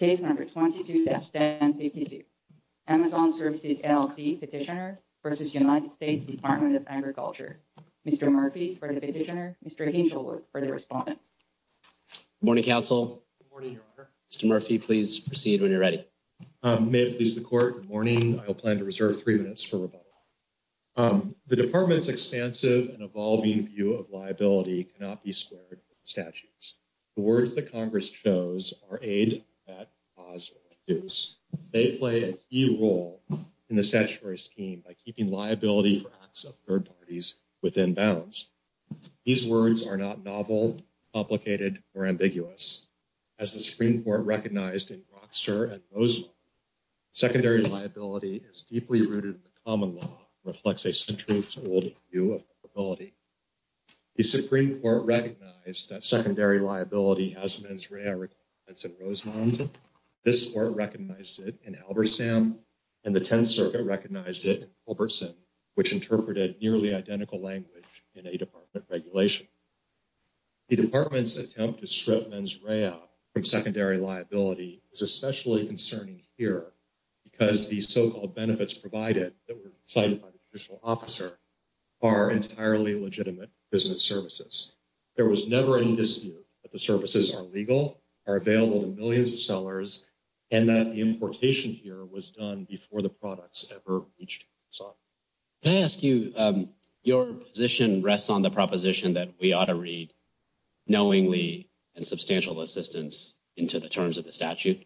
Ctioner v. United States Department of Agriculture. Mr. Murphy for the petitioner. Mr. Hinge will work for the respondent. Morning, counsel. Mr. Murphy, please proceed when you're ready. May it please the court. Good morning. I plan to reserve 3 minutes for rebuttal. The Department's expansive and evolving view of liability cannot be squared with statutes. The words that Congress chose are aid, not cause or abuse. They play a key role in the statutory scheme by keeping liability for acts of third parties within bounds. These words are not novel, complicated, or ambiguous. As the Supreme Court recognized in Robster and Rosemont, secondary liability is deeply rooted in the common law and reflects a centuries-old view of liability. The Supreme Court recognized that secondary liability has been described in Rosemont. This Court recognized it in Albertson, and the Tenth Circuit recognized it in Culbertson, which interpreted nearly identical language in a department regulation. The Department's attempt to strip Men's Rehab from secondary liability is especially concerning here because the so-called benefits provided that were provided by the judicial officer are entirely legitimate business services. There was never any dispute that the services are legal, are available to millions of sellers, and that the importation here was done before the products ever reached the consumer. May I ask you, your position rests on the proposition that we ought to read knowingly and substantial assistance into the terms of the statute.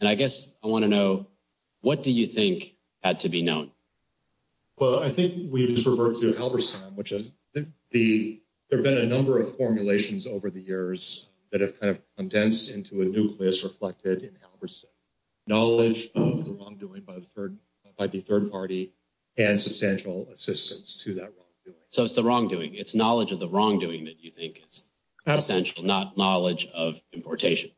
And I guess I want to know, what do you think had to be known? Well, I think we sort of work through Albertson, which there have been a number of formulations over the years that have kind of condensed into a nucleus reflected in Albertson. Knowledge of the wrongdoing by the third party and substantial assistance to that wrongdoing. So it's the wrongdoing. It's knowledge of the wrongdoing that you think is essential, not knowledge of importation.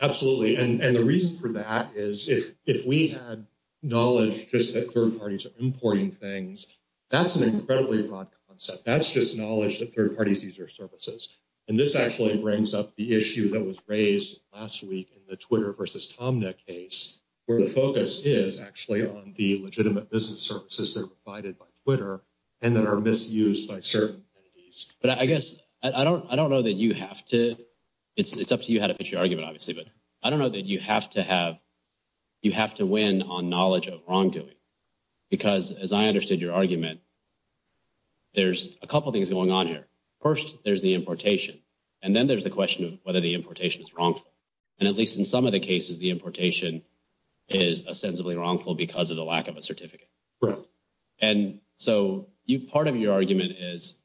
Absolutely. And the reason for that is if we had knowledge just that third parties are importing things, that's an incredibly wrong concept. That's just knowledge that third parties use their services. And this actually brings up the issue that was raised last week in the Twitter versus TomNet case, where the focus is actually on the legitimate business services that are provided by Twitter and that are misused by certain entities. But I guess – I don't know that you have to – it's up to you how to pitch your argument, obviously. But I don't know that you have to have – you have to win on knowledge of wrongdoing because, as I understood your argument, there's a couple things going on here. First, there's the importation. And then there's the question of whether the importation is wrongful. And at least in some of the cases, the importation is ostensibly wrongful because of the lack of a certificate. And so part of your argument is,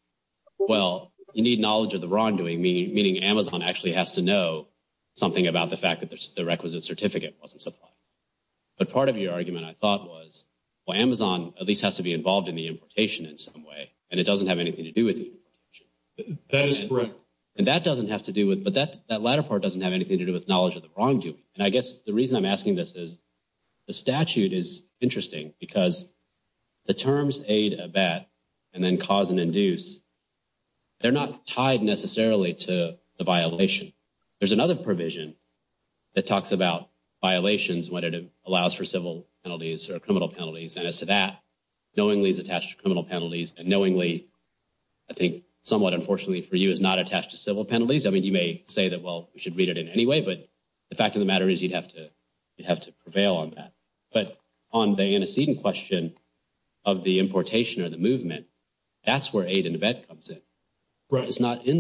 well, you need knowledge of the wrongdoing, meaning Amazon actually has to know something about the fact that the requisite certificate wasn't supplied. But part of your argument, I thought, was, well, Amazon at least has to be involved in the importation in some way, and it doesn't have anything to do with the importation. And that doesn't have to do with – but that latter part doesn't have anything to do with knowledge of the wrongdoing. And I guess the reason I'm asking this is the statute is interesting because the terms aid, abet, and then cause and induce, they're not tied necessarily to the violation. There's another provision that talks about violations when it allows for civil penalties or criminal penalties. And as to that, knowingly is attached to criminal penalties, but knowingly, I think, somewhat unfortunately for you, is not attached to civil penalties. I mean, you may say that, well, we should read it in any way, but the fact of the matter is you'd have to prevail on that. But on the antecedent question of the importation or the movement, that's where aid and abet comes in. It's not in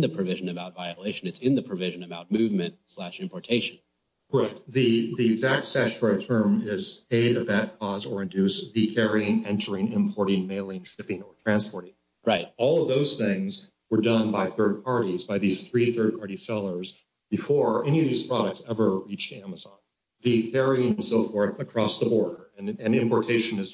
the provision about violation. It's in the provision about movement slash importation. Right. The exact statutory term is aid, abet, cause, or induce, decarrying, entering, importing, mailing, shipping, or transporting. Right. All of those things were done by third parties, by these three third-party sellers, before any of these products ever reached Amazon. The carrying and so forth across the border. And importation is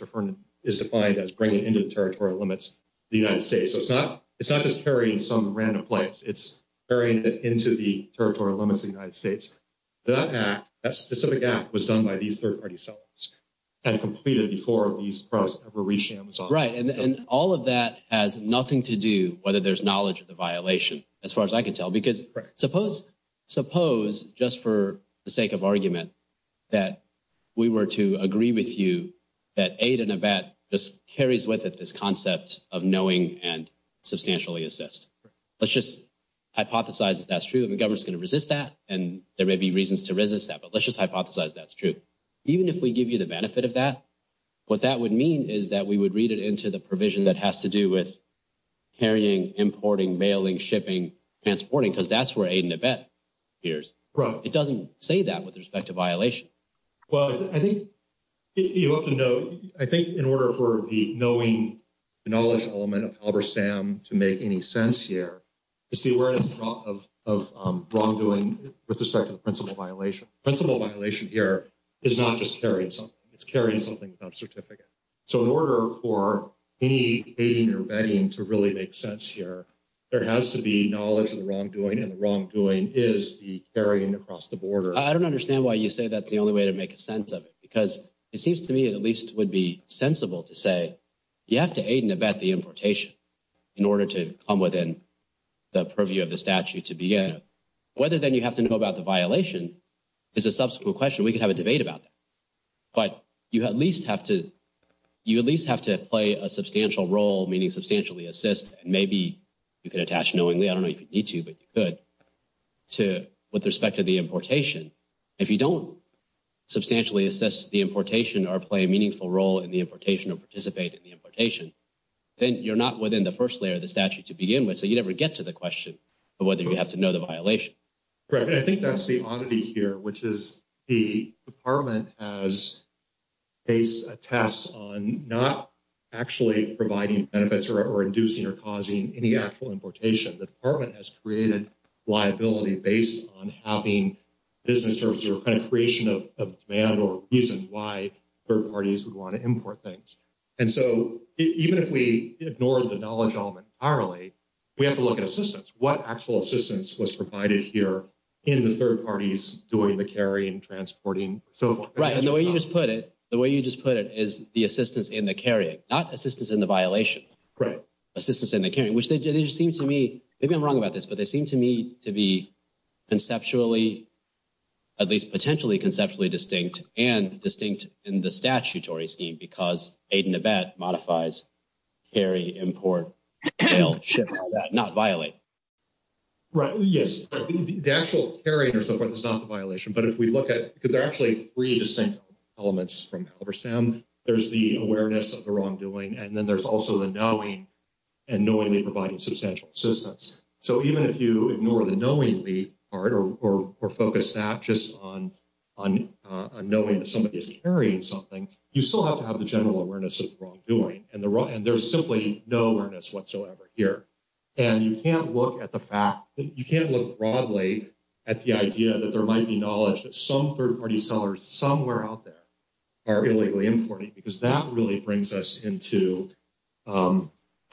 defined as bringing into the territorial limits of the United States. So it's not just carrying some random flights. It's carrying it into the territorial limits of the United States. That act, that specific act, was done by these third-party sellers and completed before these products ever reached Amazon. Right. And all of that has nothing to do whether there's knowledge of the violation, as far as I can tell. Because suppose, just for the sake of argument, that we were to agree with you that aid and abet just carries with it this concept of knowing and substantially assist. Let's just hypothesize that that's true. The government's going to resist that, and there may be reasons to resist that. Let's just hypothesize that's true. Even if we give you the benefit of that, what that would mean is that we would read it into the provision that has to do with carrying, importing, mailing, shipping, transporting, because that's where aid and abet appears. Right. It doesn't say that with respect to violation. Well, I think you have to know – I think in order for the knowing knowledge element of Albersam to make any sense here, it's the awareness of wrongdoing with respect to the principal violation. Principal violation here is not just carrying something. It's carrying something without a certificate. So in order for any aiding or abetting to really make sense here, there has to be knowledge of the wrongdoing, and the wrongdoing is the carrying across the border. I don't understand why you say that's the only way to make sense of it, because it seems to me it at least would be sensible to say you have to aid and abet the importation in order to come within the purview of the statute to begin. Whether then you have to know about the violation is a subsequent question. We can have a debate about that. But you at least have to – you at least have to play a substantial role, meaning substantially assist, and maybe you can attach knowingly – I don't know if you need to, but you could – with respect to the importation. If you don't substantially assist the importation or play a meaningful role in the importation or participate in the importation, then you're not within the first layer of the statute to begin with, so you never get to the question of whether you have to know the violation. Right, and I think that's the oddity here, which is the department has faced a test on not actually providing benefits or inducing or causing any actual importation. The department has created liability based on having business services or kind of creation of demand or reasons why third parties would want to import things. And so even if we ignore the knowledge element entirely, we have to look at assistance. What actual assistance was provided here in the third parties doing the carrying, transporting, so forth? Right, and the way you just put it is the assistance in the carrying, not assistance in the violation. Right. Assistance in the carrying, which seems to me – maybe I'm wrong about this, but they seem to me to be conceptually – at least potentially conceptually distinct and distinct in the statutory scheme because aid in the back modifies carry, import, not violate. Right, yes. The actual carrying or so forth is not the violation, but if we look at – because there are actually three distinct elements from CalVersTAM. There's the awareness of the wrongdoing, and then there's also the knowing, and knowingly providing substantial assistance. So even if you ignore the knowingly part or focus that just on knowing that somebody's carrying something, you still have to have the general awareness of the wrongdoing, and there's simply no awareness whatsoever here. And you can't look at the fact – you can't look broadly at the idea that there might be knowledge that some third-party sellers somewhere out there are illegally importing, because that really brings us into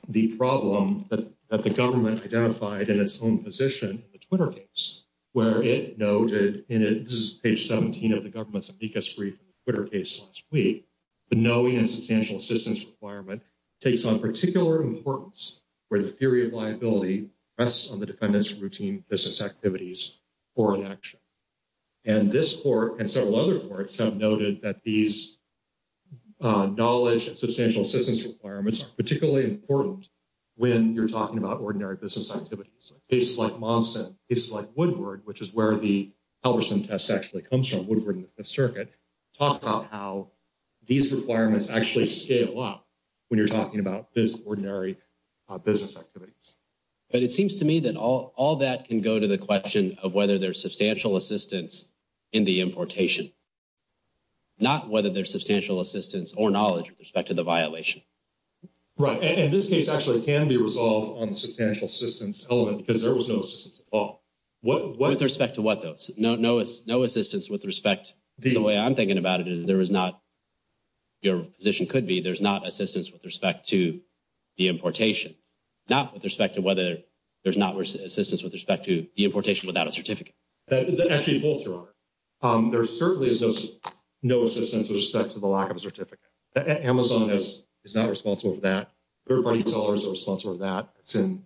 the problem that the government identified in its own position in the Twitter case. Where it noted – and this is page 17 of the government's amicus brief in the Twitter case last week – the knowing and substantial assistance requirement takes on particular importance where the theory of liability rests on the defendant's routine business activities for election. And this court and several other courts have noted that these knowledge and substantial assistance requirements are particularly important when you're talking about ordinary business activities. So cases like Monson, cases like Woodward, which is where the publishing test actually comes from, Woodward and Fifth Circuit, talk about how these requirements actually scale up when you're talking about ordinary business activities. But it seems to me that all that can go to the question of whether there's substantial assistance in the importation, not whether there's substantial assistance or knowledge with respect to the violation. Right. And in this case, actually, it can be resolved on a substantial assistance element because there was no assistance at all. With respect to what, though? No assistance with respect – the way I'm thinking about it is there is not – your position could be there's not assistance with respect to the importation. Not with respect to whether – there's not assistance with respect to the importation without a certificate. Actually, both are on it. There certainly is no assistance with respect to the lack of a certificate. Amazon is not responsible for that. Third-party sellers are responsible for that. It's in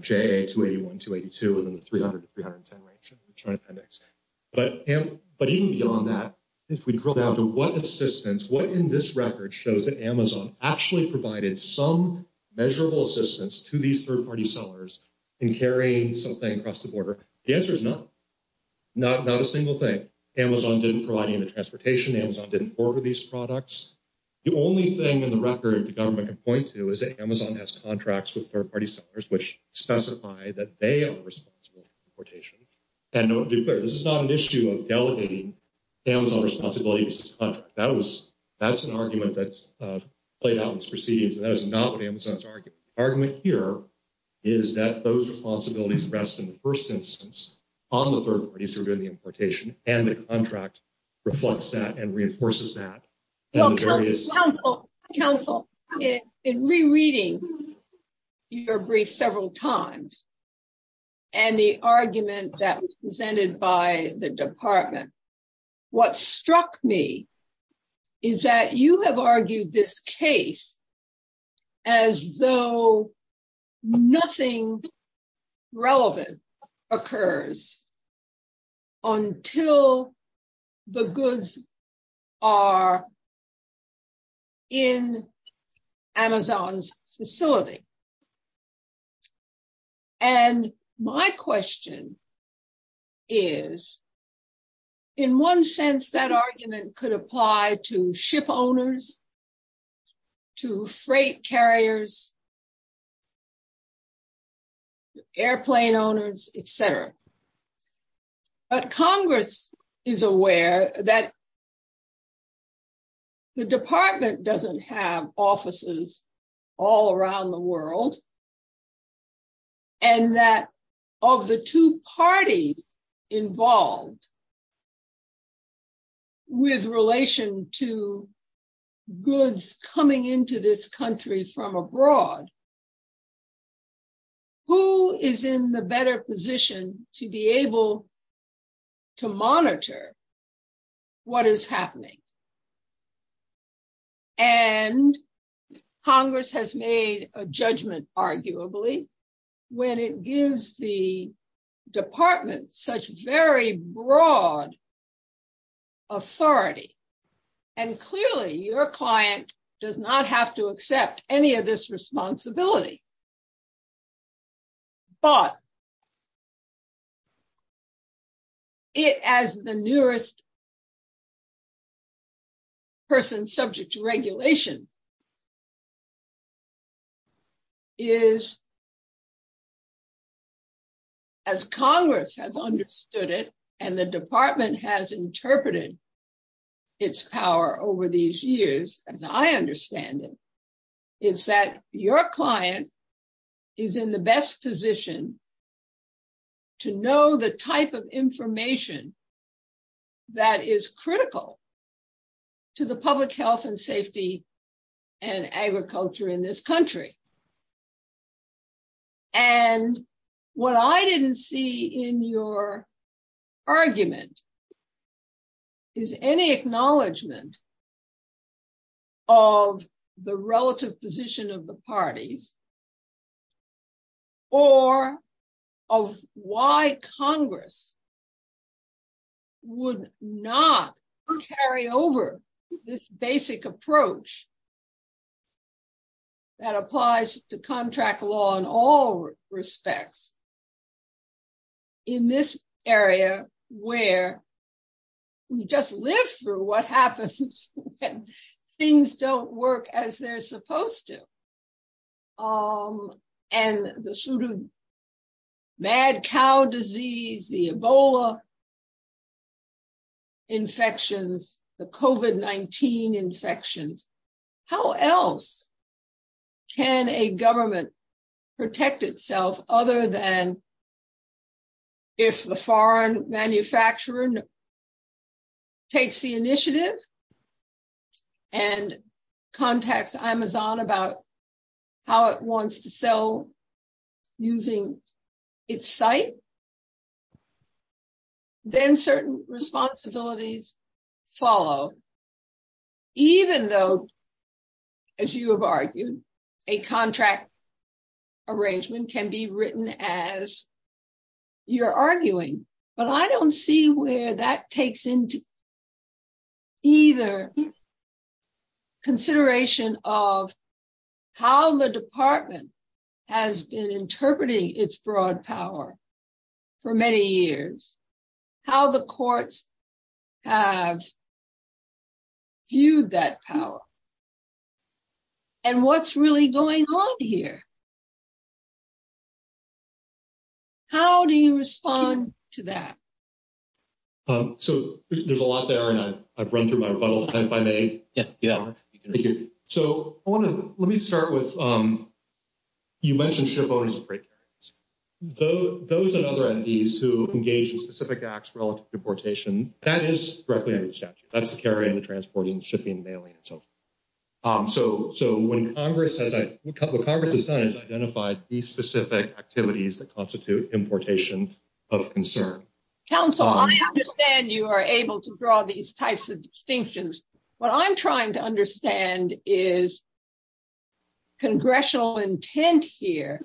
JA 281, 282, and then 300, 310, 282. But even beyond that, if we go down to what assistance, what in this record shows that Amazon actually provided some measurable assistance to these third-party sellers in carrying something across the border? The answer is no. Not a single thing. Amazon didn't provide any transportation. Amazon didn't order these products. The only thing in the record the government can point to is that Amazon has contracts with third-party sellers which specify that they are responsible for the importation. This is not an issue of delegating Amazon responsibilities to this country. That's an argument that's played out in this proceeding, but that is not what Amazon is arguing. The argument here is that those responsibilities rest in the first instance on the third-party server in the importation, and the contract reflects that and reinforces that. Counsel, in rereading your brief several times and the argument that was presented by the department, what struck me is that you have argued this case as though nothing relevant occurs until the goods are in Amazon's facility. My question is, in one sense, that argument could apply to ship owners, to freight carriers, airplane owners, etc. But Congress is aware that the department doesn't have offices all around the world, and that of the two parties involved with relation to goods coming into this country from abroad, who is in the better position to be able to monitor what is happening? And Congress has made a judgment, arguably, when it gives the department such very broad authority. And clearly, your client does not have to accept any of this responsibility. But it, as the nearest person subject to regulation, is, as Congress has understood it, and the department has interpreted its power over these years, and I understand it, is that your client is in the best position to know the type of information that is critical to the public health and safety and agriculture in this country. And what I didn't see in your argument is any acknowledgment of the relative position of the parties, or of why Congress would not carry over this basic approach that applies to goods. It applies to contract law in all respects, in this area where we just live through what happens when things don't work as they're supposed to. And the sort of mad cow disease, the Ebola infections, the COVID-19 infections, how else can a government protect itself other than if the foreign manufacturer takes the initiative and contacts Amazon about how it wants to sell using its site, then certain responsibilities follow. Even though, as you have argued, a contract arrangement can be written as you're arguing, but I don't see where that takes into either consideration of how the department has been interpreting its broad power for many years, how the courts have viewed that power, and what's really going on here. How do you respond to that? So there's a lot there, and I've run through my rebuttal, if I may. So let me start with, you mentioned shareholders of freight carriers. Those and other entities who engage in specific acts relative to importation, that is directly under the statute. That's carrying, transporting, shipping, mailing, and so forth. So when Congress has identified these specific activities that constitute importation of concern. Counsel, I understand you are able to draw these types of distinctions. What I'm trying to understand is congressional intent here,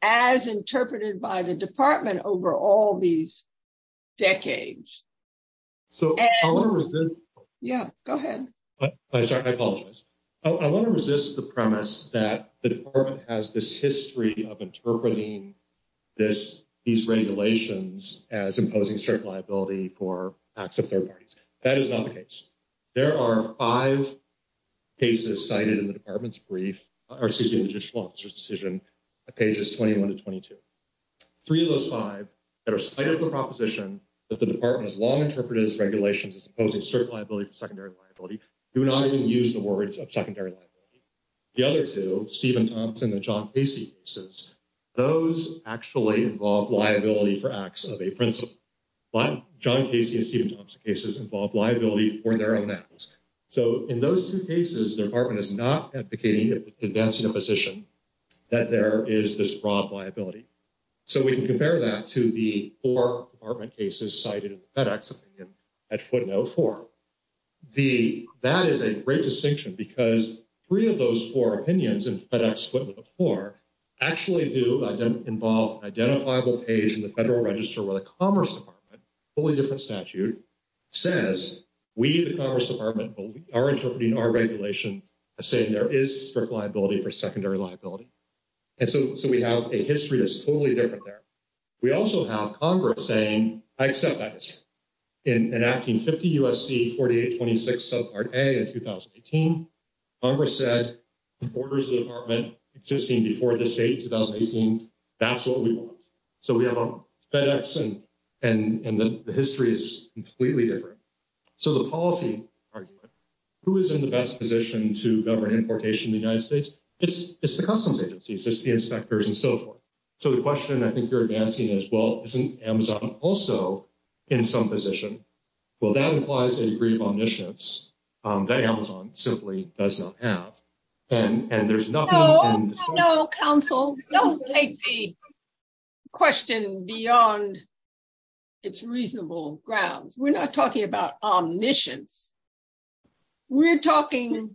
as interpreted by the department over all these decades. Yeah, go ahead. I'm sorry, I apologize. I want to resist the premise that the department has this history of interpreting these regulations as imposing certain liability for acts of third parties. There are five cases cited in the department's brief, or excuse me, the judicial officer's decision, pages 21 to 22. Three of those five that are cited for proposition that the department has long interpreted as regulations as imposing certain liability for secondary liability, do not even use the words of secondary liability. The other two, Stephen Thompson and John Casey cases, those actually involve liability for acts of a principal. John Casey and Stephen Thompson cases involve liability for their own acts. So in those two cases, the department is not advocating a condensed imposition that there is this broad liability. So we can compare that to the four department cases cited in FedEx opinion at footnote four. That is a great distinction because three of those four opinions in FedEx footnote four actually do involve an identifiable page in the Federal Register where the Commerce Department, a totally different statute, says we, the Commerce Department, are interpreting our regulation as saying there is certain liability for secondary liability. And so we have a history that's totally different there. We also have Congress saying, I accept that decision. In enacting 50 U.S.C. 4826 subpart A in 2018, Congress said the borders of the department existing before the state in 2018, that's what we want. So we have a FedEx and the history is completely different. So the policy argument, who is in the best position to govern importation in the United States, it's the customs agencies, it's the inspectors and so forth. So the question I think you're advancing is, well, isn't Amazon also in some position? Well, that implies a degree of omniscience that Amazon simply does not have. And there's nothing... No, counsel, don't take the question beyond its reasonable grounds. We're not talking about omniscience. We're talking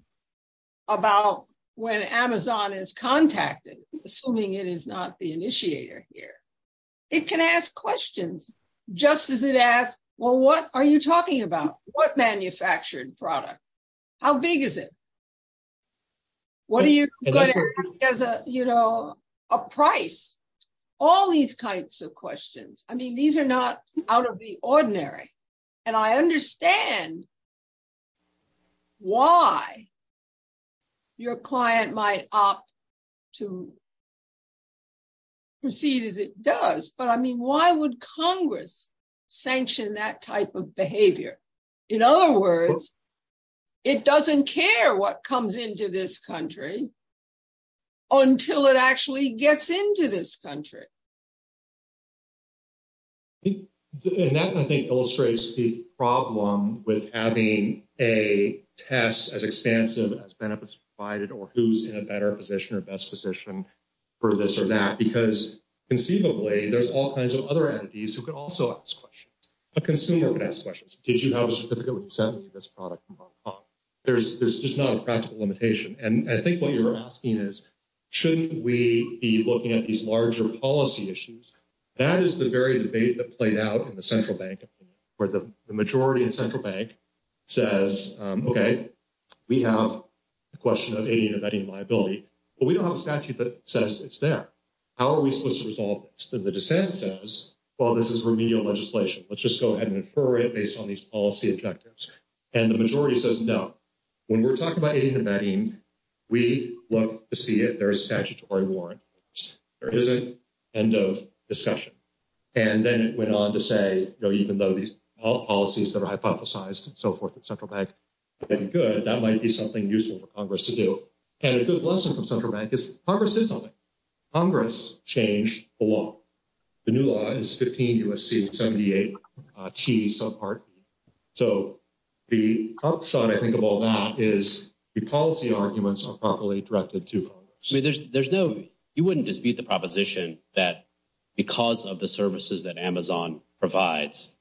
about when Amazon is contacted, assuming it is not the initiator here. It can ask questions just as it asks, well, what are you talking about? What manufactured product? How big is it? What do you... You know, a price. All these kinds of questions. I mean, these are not out of the ordinary. And I understand why your client might opt to proceed as it does. But I mean, why would Congress sanction that type of behavior? In other words, it doesn't care what comes into this country until it actually gets into this country. And that, I think, illustrates the problem with having a test as expansive as benefits provided or who's in a better position or best position for this or that. Because conceivably, there's all kinds of other entities who can also ask questions. A consumer can ask questions. Did you have a certificate with 70 of this product? There's just not a practical limitation. And I think what you're asking is, shouldn't we be looking at these larger policy issues? That is the very debate that played out in the central bank, where the majority in central bank says, okay, we have a question of aiding and abetting liability. But we don't have a statute that says it's there. How are we supposed to resolve this? And the dissent says, well, this is remedial legislation. Let's just go ahead and refer it based on these policy objectives. And the majority says no. When we're talking about aiding and abetting, we look to see if there is a statutory warrant. There isn't. End of discussion. And then it went on to say, even though these policies that are hypothesized and so forth in central bank are good, that might be something useful for Congress to do. And a good lesson from central bank is Congress did something. Congress changed the law. The new law is 15 U.S.C. 78 T subpart. So the upside, I think, of all that is the policy arguments are properly directed to Congress. You wouldn't dispute the proposition that because of the services that Amazon provides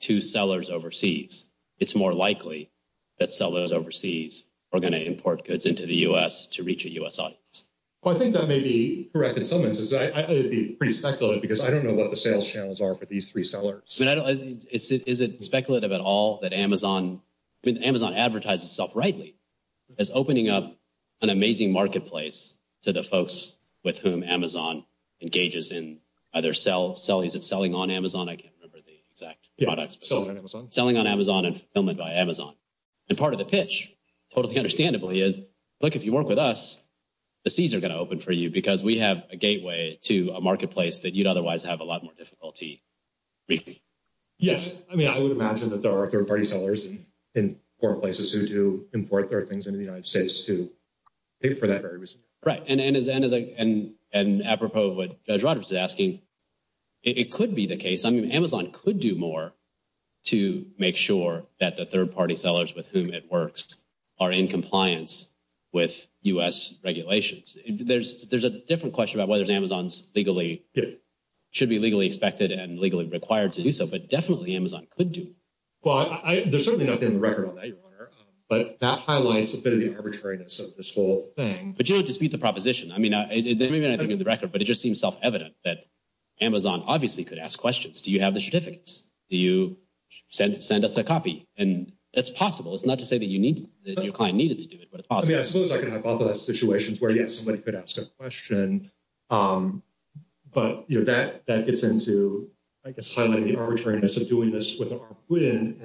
to sellers overseas, it's more likely that sellers overseas are going to import goods into the U.S. to reach a U.S. audience. Well, I think that may be correct in some instances. That would be pretty speculative because I don't know what the sales channels are for these three sellers. Is it speculative at all that Amazon advertises itself rightly as opening up an amazing marketplace to the folks with whom Amazon engages in other selling on Amazon? I can't remember the exact product. Selling on Amazon. Selling on Amazon and fulfillment by Amazon. And part of the pitch, totally understandably, is, look, if you work with us, the seas are going to open for you because we have a gateway to a marketplace that you'd otherwise have a lot more difficulty reaching. Yes. I mean, I would imagine that there are third-party sellers in foreign places who do import their things into the United States who paid for that very recently. Right. And apropos of what Judge Roberts is asking, it could be the case, I mean, Amazon could do more to make sure that the third-party sellers with whom it works are in compliance with U.S. regulations. There's a different question about whether Amazon should be legally expected and legally required to do so, but definitely Amazon could do it. Well, there's certainly nothing on the record on that, your Honor. But that highlights a bit of the arbitrariness of this whole thing. I mean, it's a proposition. I mean, there may be nothing on the record, but it just seems self-evident that Amazon obviously could ask questions. Do you have the certificates? Do you send us a copy? And that's possible. It's not to say that your client needed to do it, but it's possible. I mean, I suppose I can hypothesize situations where, yes, somebody could ask a question, but that gets into, I guess, highly arbitrariness of doing this with our foot in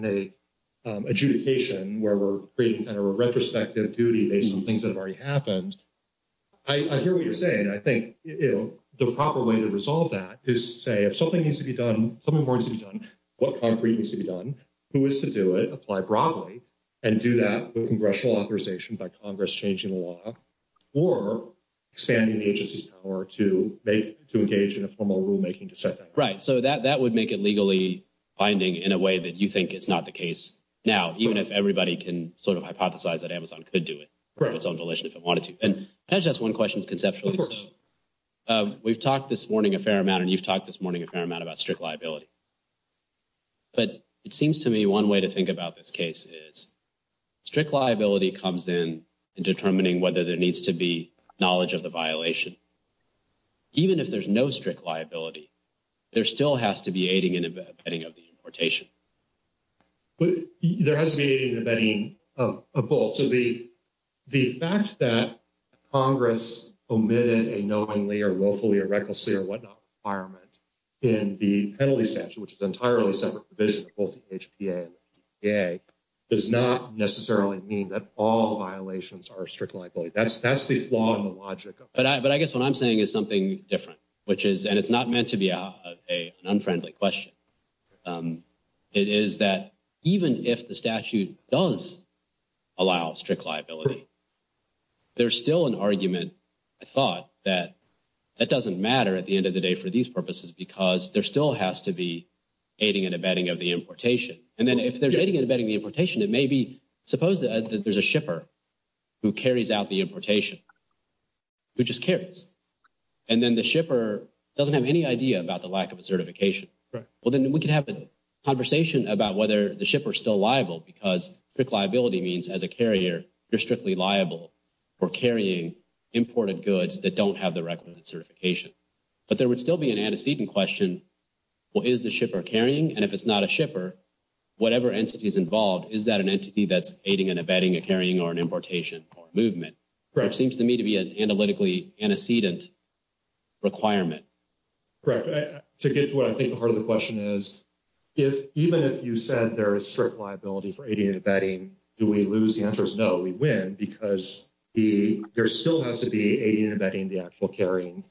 an adjudication where we're creating kind of a retrospective duty based on things that have already happened. I hear what you're saying. I think the proper way to resolve that is to say, if something needs to be done, what concrete needs to be done, who is to do it, apply broadly, and do that with congressional authorization by Congress changing the law, or expanding the agency's power to engage in a formal rulemaking to set that up. Right. So that would make it legally binding in a way that you think is not the case now, even if everybody can sort of hypothesize that Amazon could do it. Right. And that's just one question conceptually. Of course. We've talked this morning a fair amount, and you've talked this morning a fair amount about strict liability. But it seems to me one way to think about this case is strict liability comes in determining whether there needs to be knowledge of the violation. Even if there's no strict liability, there still has to be aiding and abetting of the importation. There has to be aiding and abetting of both. So the fact that Congress omitted a knowingly or willfully or recklessly or whatnot requirement in the penalty statute, which is an entirely separate provision of both the HPA and the EPA, does not necessarily mean that all violations are strict liability. That's the flaw in the logic of it. It is that even if the statute does allow strict liability, there's still an argument, I thought, that that doesn't matter at the end of the day for these purposes because there still has to be aiding and abetting of the importation. And then if there's aiding and abetting of the importation, it may be – suppose that there's a shipper who carries out the importation, who just carries. And then the shipper doesn't have any idea about the lack of a certification. Well, then we can have a conversation about whether the shipper is still liable because strict liability means as a carrier, you're strictly liable for carrying imported goods that don't have the requisite certification. But there would still be an antecedent question, well, is the shipper carrying? And if it's not a shipper, whatever entity is involved, is that an entity that's aiding and abetting a carrying or an importation or a movement? Correct. Seems to me to be an analytically antecedent requirement. Correct. To get to what I think the heart of the question is, even if you said there is strict liability for aiding and abetting, do we lose the answers? No, we win because there still has to be aiding and abetting the actual carrying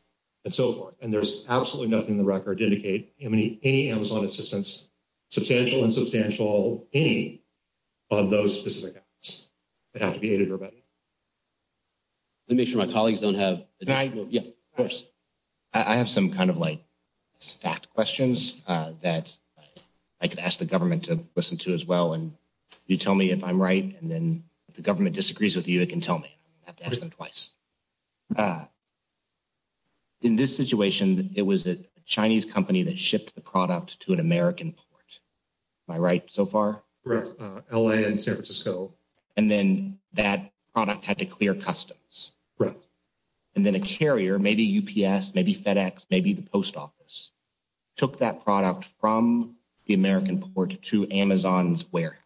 and so forth. And there's absolutely nothing in the record to indicate any Amazon assistance, substantial and substantial aid, on those specific items that have to be aided or abetted. Let me make sure my colleagues don't have... Can I go first? Yeah, of course. I have some kind of like stacked questions that I could ask the government to listen to as well. And you tell me if I'm right and then if the government disagrees with you, it can tell me. I have to ask them twice. In this situation, it was a Chinese company that shipped the product to an American port. Am I right so far? Correct. L.A. and San Francisco. And then that product had to clear customs. Correct. And then a carrier, maybe UPS, maybe FedEx, maybe the post office, took that product from the American port to Amazon's warehouse.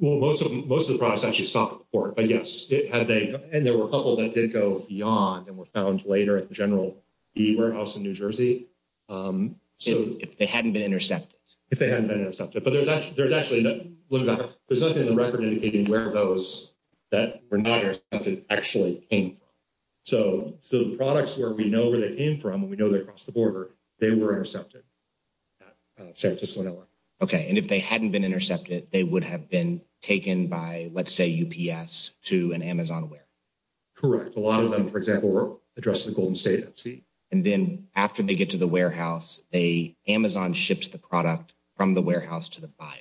Well, most of the products actually stopped at the port, I guess. And there were a couple that did go beyond and were found later at the general warehouse in New Jersey. If they hadn't been intercepted. If they hadn't been intercepted. But there's actually nothing in the record indicating where those that were not intercepted actually came from. So the products where we know where they came from, we know they're across the border, they were intercepted. Okay. And if they hadn't been intercepted, they would have been taken by, let's say, UPS to an Amazon warehouse. Correct. A lot of them, for example, were addressed in the Golden State. And then after they get to the warehouse, Amazon ships the product from the warehouse to the buyer.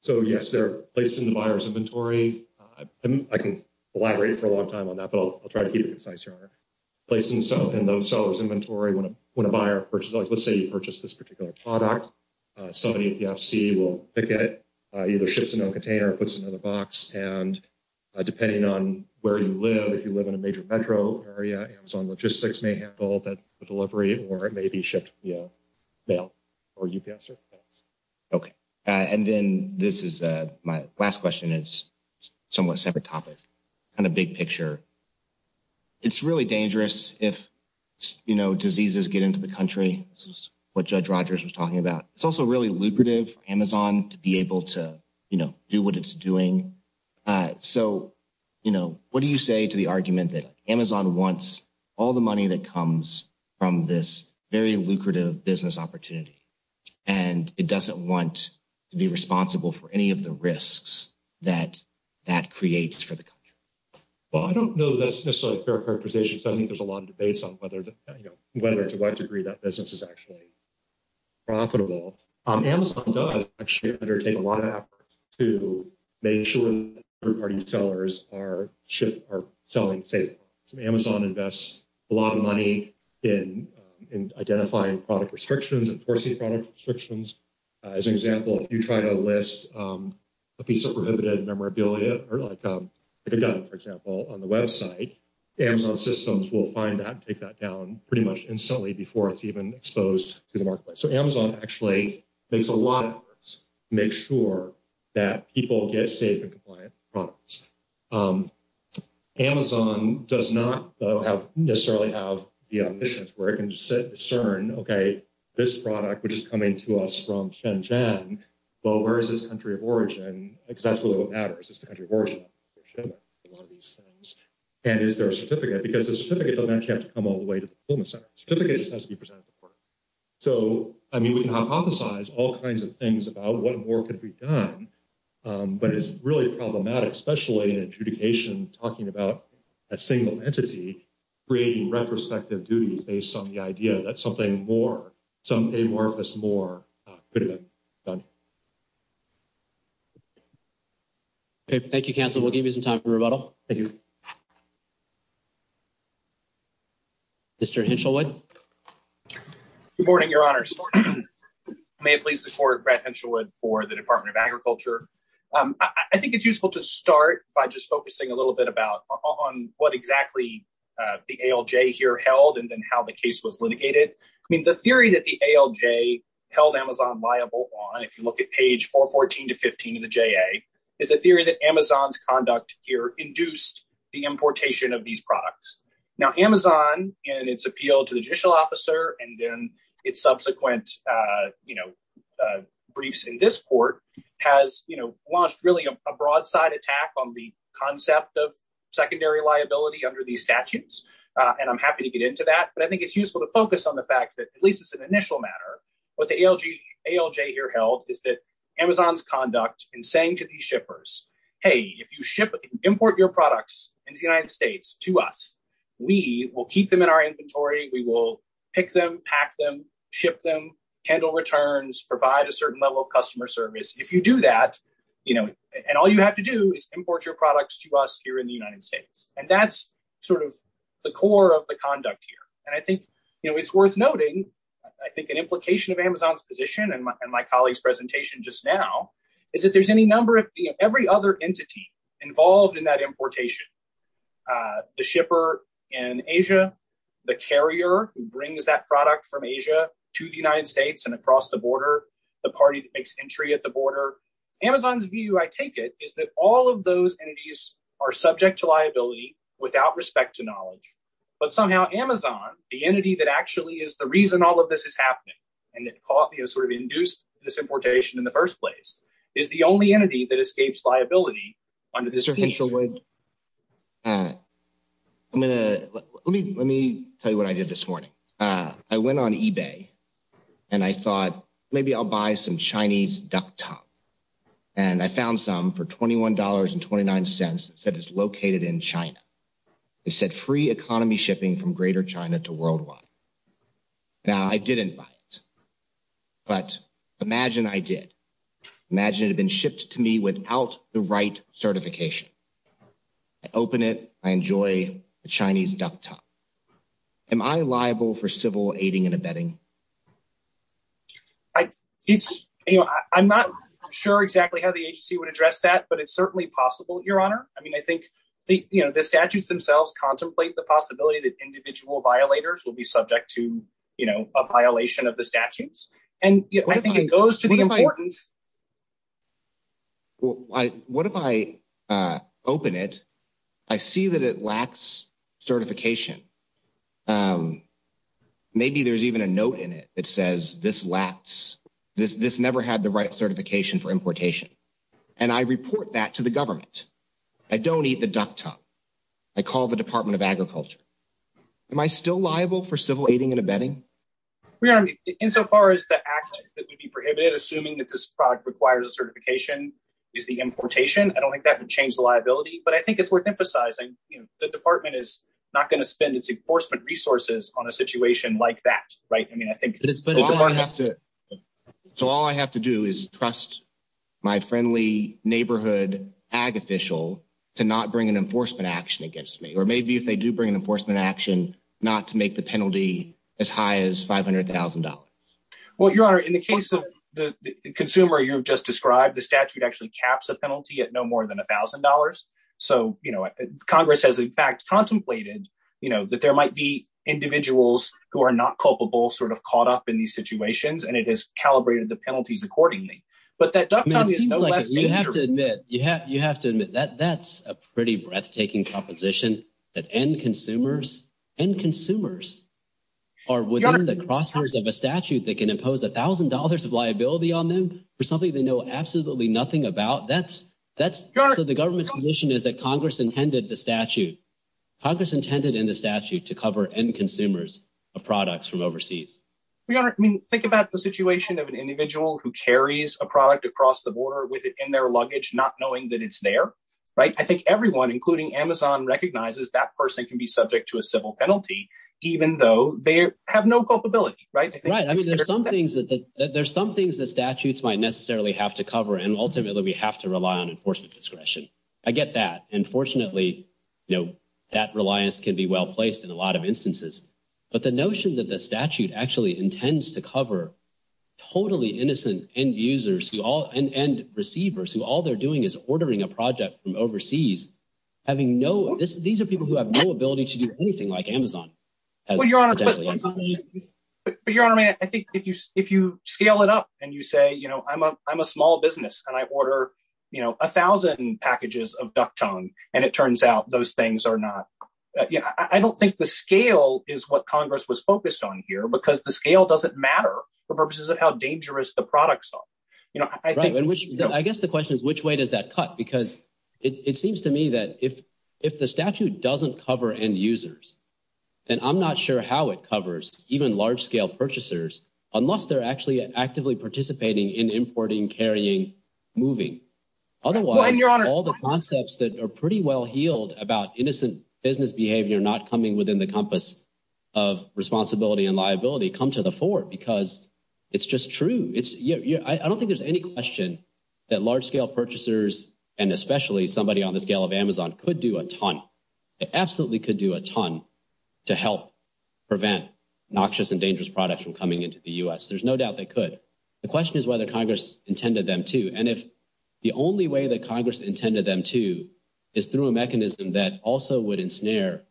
So, yes, they're placed in the buyer's inventory. I can elaborate for a long time on that, but I'll try to be concise here. They're placed in those sellers' inventory when a buyer purchases. Let's say you purchase this particular product. Somebody at the FC will pick it, either ships it in a container or puts it in a box. And depending on where you live, if you live in a major metro area, Amazon Logistics may handle that delivery or it may be shipped via mail or UPS. Okay. And then this is my last question. It's somewhat separate topic, kind of big picture. It's really dangerous if, you know, diseases get into the country. This is what Judge Rogers was talking about. It's also really lucrative for Amazon to be able to, you know, do what it's doing. So, you know, what do you say to the argument that Amazon wants all the money that comes from this very lucrative business opportunity and it doesn't want to be responsible for any of the risks that that creates for the country? Well, I don't know that's necessarily a fair proposition. I think there's a lot of debates on whether to what degree that business is actually profitable. Amazon does actually undertake a lot of efforts to make sure that third-party sellers are selling safely. So Amazon invests a lot of money in identifying product restrictions, enforcing product restrictions. As an example, if you try to list a piece of prohibited memorabilia or like a gun, for example, on the website, Amazon systems will find that and take that down pretty much instantly before it's even exposed to the marketplace. So Amazon actually makes a lot of efforts to make sure that people get safe and compliant products. Amazon does not necessarily have the ambitions where it can discern, OK, this product is coming to us from Shenzhen. Well, where is this country of origin? Because that's where it all matters. It's the country of origin. And is there a certificate? Because a certificate doesn't have to come all the way to the fulfillment center. A certificate just has to be presented to the court. So, I mean, we can hypothesize all kinds of things about what more could be done, but it's really problematic, especially in adjudication, talking about a single entity, creating retrospective duties based on the idea that something more, something worth this more could have been done. OK, thank you, counsel. We'll give you some time for rebuttal. Mr. Hinchelwood. Good morning, Your Honor. May it please the court, Brad Hinchelwood for the Department of Agriculture. I think it's useful to start by just focusing a little bit about on what exactly the ALJ here held and then how the case was litigated. I mean, the theory that the ALJ held Amazon liable on, if you look at page 414 to 15 of the JA, is a theory that Amazon's conduct here induced the importation of these products. Now, Amazon, in its appeal to the judicial officer and then its subsequent briefs in this court, has launched really a broadside attack on the concept of secondary liability under these statutes. And I'm happy to get into that. But I think it's useful to focus on the fact that, at least as an initial matter, what the ALJ here held is that Amazon's conduct in saying to these shippers, hey, if you import your products in the United States to us, we will keep them in our inventory. We will pick them, pack them, ship them, handle returns, provide a certain level of customer service. If you do that, you know, and all you have to do is import your products to us here in the United States. And that's sort of the core of the conduct here. And I think it's worth noting, I think an implication of Amazon's position and my colleague's presentation just now, is that there's any number of every other entity involved in that importation. The shipper in Asia, the carrier who brings that product from Asia to the United States and across the border, the party that makes entry at the border. Amazon's view, I take it, is that all of those entities are subject to liability without respect to knowledge. But somehow Amazon, the entity that actually is the reason all of this is happening, and that coffee has sort of induced this importation in the first place, is the only entity that escapes liability under this official label. Let me tell you what I did this morning. I went on eBay and I thought maybe I'll buy some Chinese duck tongue. And I found some for $21.29 that is located in China. It said free economy shipping from greater China to worldwide. Now, I didn't buy it. But imagine I did. Imagine it had been shipped to me without the right certification. I open it. I enjoy the Chinese duck tongue. Am I liable for civil aiding and abetting? I'm not sure exactly how the agency would address that, but it's certainly possible, Your Honor. I mean, I think the statutes themselves contemplate the possibility that individual violators will be subject to a violation of the statutes. And I think it goes to the important... What if I open it? I see that it lacks certification. Maybe there's even a note in it that says this never had the right certification for importation. And I report that to the government. I don't eat the duck tongue. I call the Department of Agriculture. Am I still liable for civil aiding and abetting? Your Honor, insofar as the act that would be prohibited, assuming that this product requires a certification, is the importation, I don't think that could change the liability. But I think it's worth emphasizing the department is not going to spend its enforcement resources on a situation like that. So all I have to do is trust my friendly neighborhood ag official to not bring an enforcement action against me. Or maybe if they do bring an enforcement action, not to make the penalty as high as $500,000. Well, Your Honor, in the case of the consumer you've just described, the statute actually caps the penalty at no more than $1,000. So, you know, Congress has in fact contemplated, you know, that there might be individuals who are not culpable, sort of caught up in these situations, and it has calibrated the penalties accordingly. But that duck tongue is no less dangerous. You have to admit, you have to admit, that's a pretty breathtaking composition that end consumers, end consumers are within the crosshairs of a statute that can impose $1,000 of liability on them for something they know absolutely nothing about. So the government's position is that Congress intended the statute, Congress intended in the statute to cover end consumers of products from overseas. Your Honor, I mean, think about the situation of an individual who carries a product across the border in their luggage, not knowing that it's there, right? I think everyone, including Amazon, recognizes that person can be subject to a civil penalty, even though they have no culpability, right? Right, I mean, there's some things that statutes might necessarily have to cover, and ultimately we have to rely on enforcement discretion. I get that. And fortunately, you know, that reliance can be well placed in a lot of instances. But the notion that the statute actually intends to cover totally innocent end users and end receivers, who all they're doing is ordering a project from overseas, having no – these are people who have no ability to do anything like Amazon. Well, Your Honor, I think if you scale it up and you say, you know, I'm a small business and I order, you know, 1,000 packages of Duck Tongue, and it turns out those things are not – I don't think the scale is what Congress was focused on here, because the scale doesn't matter for purposes of how dangerous the products are. I guess the question is, which way does that cut? Because it seems to me that if the statute doesn't cover end users, then I'm not sure how it covers even large-scale purchasers unless they're actually actively participating in importing, carrying, moving. Otherwise, all the concepts that are pretty well-heeled about innocent business behavior not coming within the compass of responsibility and liability come to the fore, because it's just true. I don't think there's any question that large-scale purchasers and especially somebody on the scale of Amazon could do a ton – they absolutely could do a ton to help prevent noxious and dangerous products from coming into the U.S. There's no doubt they could. The question is whether Congress intended them to. And if the only way that Congress intended them to is through a mechanism that also would ensnare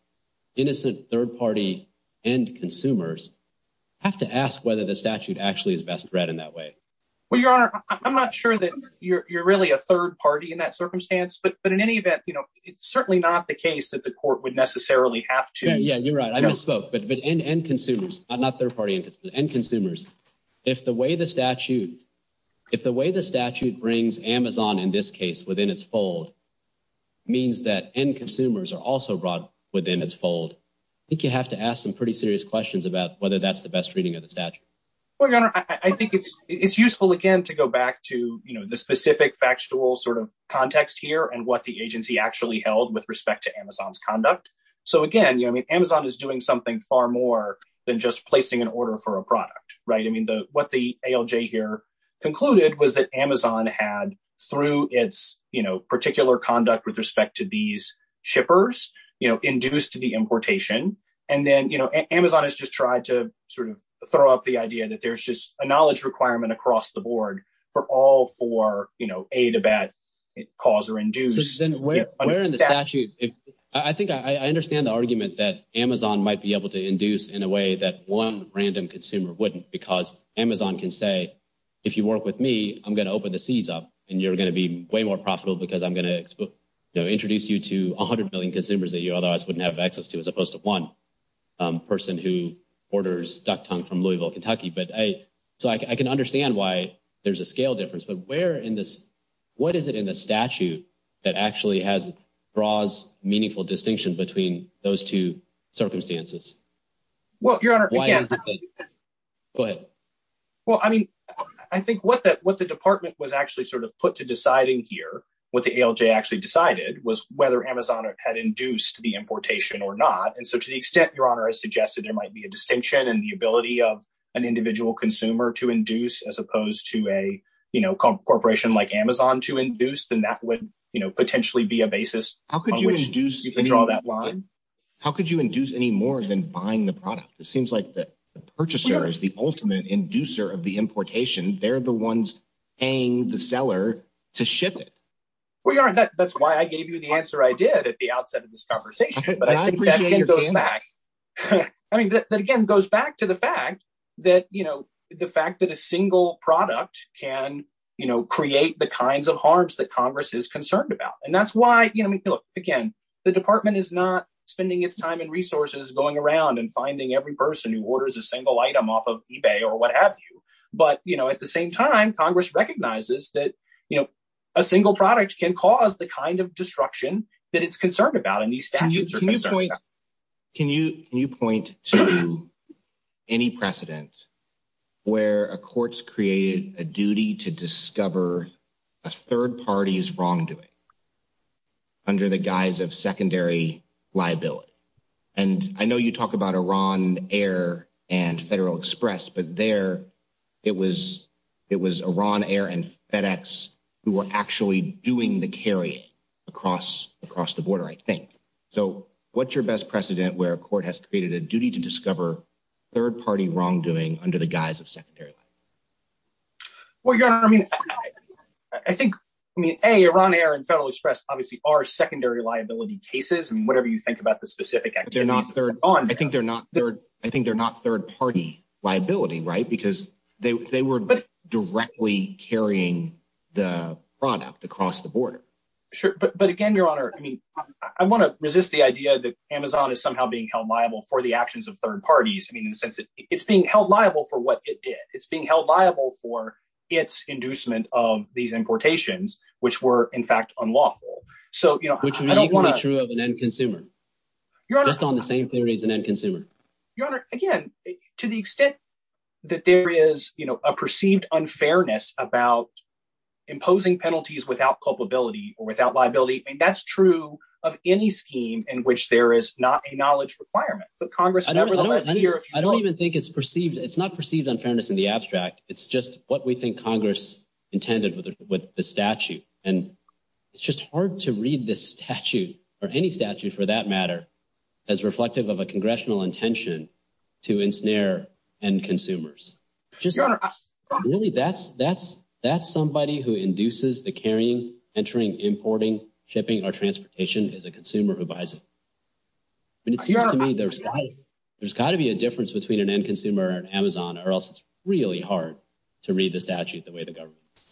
innocent third-party end consumers, I have to ask whether the statute actually is best read in that way. Well, Your Honor, I'm not sure that you're really a third party in that circumstance, but in any event, it's certainly not the case that the court would necessarily have to. Yeah, you're right. I misspoke. But with end consumers – not third-party end consumers – if the way the statute brings Amazon in this case within its fold means that end consumers are also brought within its fold, I think you have to ask some pretty serious questions about whether that's the best reading of the statute. Well, Your Honor, I think it's useful, again, to go back to the specific factual sort of context here and what the agency actually held with respect to Amazon's conduct. So, again, Amazon is doing something far more than just placing an order for a product, right? I mean, what the ALJ here concluded was that Amazon had, through its particular conduct with respect to these shippers, induced the importation. And then Amazon has just tried to sort of throw out the idea that there's just a knowledge requirement across the board for all four, A, the bad cause or induced. Then where in the statute – I think I understand the argument that Amazon might be able to induce in a way that one random consumer wouldn't because Amazon can say, if you work with me, I'm going to open the seeds up and you're going to be way more profitable because I'm going to introduce you to 100 million consumers that you otherwise wouldn't have access to as opposed to one person who orders duck tongue from Louisville, Kentucky. So I can understand why there's a scale difference, but where in this – what is it in the statute that actually draws meaningful distinction between those two circumstances? Well, Your Honor – Go ahead. Well, I mean, I think what the department was actually sort of put to deciding here, what the ALJ actually decided, was whether Amazon had induced the importation or not. And so to the extent, Your Honor, I suggested there might be a distinction in the ability of an individual consumer to induce as opposed to a corporation like Amazon to induce, then that would potentially be a basis on which to draw that line. How could you induce any more than buying the product? It seems like the purchaser is the ultimate inducer of the importation. They're the ones paying the seller to ship it. Well, Your Honor, that's why I gave you the answer I did at the outset of this conversation, but I think that goes back. I mean, that again goes back to the fact that, you know, the fact that a single product can, you know, create the kinds of harms that Congress is concerned about. And that's why, you know, again, the department is not spending its time and resources going around and finding every person who orders a single item off of eBay or what have you. But, you know, at the same time, Congress recognizes that, you know, a single product can cause the kind of destruction that it's concerned about. Can you point to any precedent where a court's created a duty to discover a third party's wrongdoing under the guise of secondary liability? And I know you talk about Iran Air and Federal Express, but there it was Iran Air and FedEx who were actually doing the carrying across the border, I think. So what's your best precedent where a court has created a duty to discover third party wrongdoing under the guise of secondary liability? Well, Your Honor, I mean, I think, I mean, A, Iran Air and Federal Express obviously are secondary liability cases. And whatever you think about the specific activities they're on, I think they're not third party liability, right? Because they were directly carrying the product across the border. Sure. But again, Your Honor, I mean, I want to resist the idea that Amazon is somehow being held liable for the actions of third parties. It's being held liable for what it did. It's being held liable for its inducement of these importations, which were, in fact, unlawful. Which would be true of an end consumer. That's on the same theory as an end consumer. Your Honor, again, to the extent that there is, you know, a perceived unfairness about imposing penalties without culpability or without liability, and that's true of any scheme in which there is not a knowledge requirement. I don't even think it's perceived. It's not perceived unfairness in the abstract. It's just what we think Congress intended with the statute. And it's just hard to read this statute, or any statute for that matter, as reflective of a congressional intention to ensnare end consumers. Really, that's somebody who induces the carrying, entering, importing, shipping, or transportation as a consumer who buys it. And it seems to me there's got to be a difference between an end consumer and Amazon, or else it's really hard to read the statute the way the government does.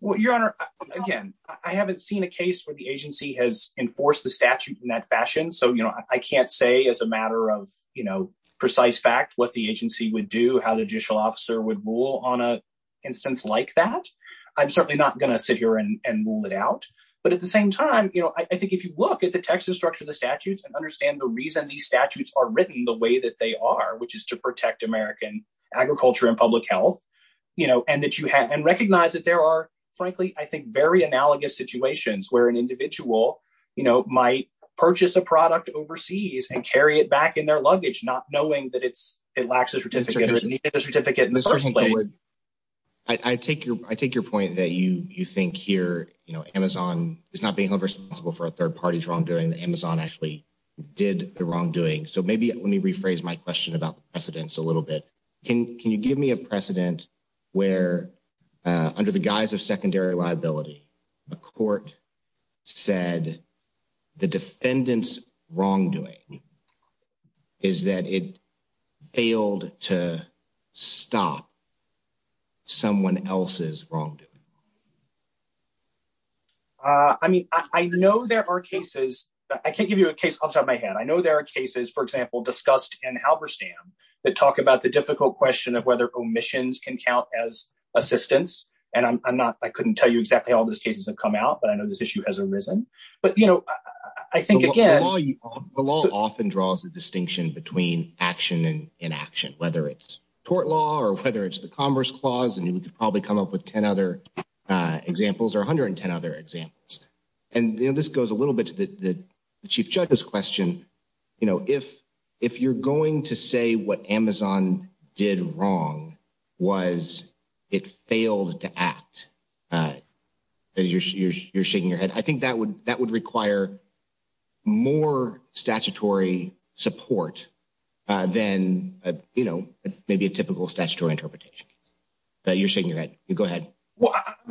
Well, Your Honor, again, I haven't seen a case where the agency has enforced the statute in that fashion. So, you know, I can't say as a matter of, you know, precise fact what the agency would do, how the judicial officer would rule on an instance like that. I'm certainly not going to sit here and rule it out. But at the same time, you know, I think if you look at the text and structure of the statutes and understand the reason these statutes are written the way that they are, which is to protect American agriculture and public health, you know, and recognize that there are, frankly, I think very analogous situations where an individual, you know, might purchase a product overseas and carry it back in their luggage, not knowing that it lacks a certificate. I take your point that you think here, you know, Amazon is not being held responsible for a third party's wrongdoing. Amazon actually did the wrongdoing. So maybe let me rephrase my question about precedence a little bit. Can you give me a precedent where, under the guise of secondary liability, a court said the defendant's wrongdoing is that it failed to stop someone else's wrongdoing? I mean, I know there are cases, I can't give you a case off the top of my head. I know there are cases, for example, discussed in Halberstam that talk about the difficult question of whether omissions can count as assistance. And I'm not, I couldn't tell you exactly how all those cases have come out, but I know this issue has arisen. But, you know, I think the law often draws a distinction between action and inaction, whether it's tort law or whether it's the Commerce Clause. And you could probably come up with 10 other examples or 110 other examples. And this goes a little bit to the chief judge's question. I think, you know, if you're going to say what Amazon did wrong was it failed to act, you're shaking your head. I think that would require more statutory support than, you know, maybe a typical statutory interpretation. You're shaking your head. Go ahead.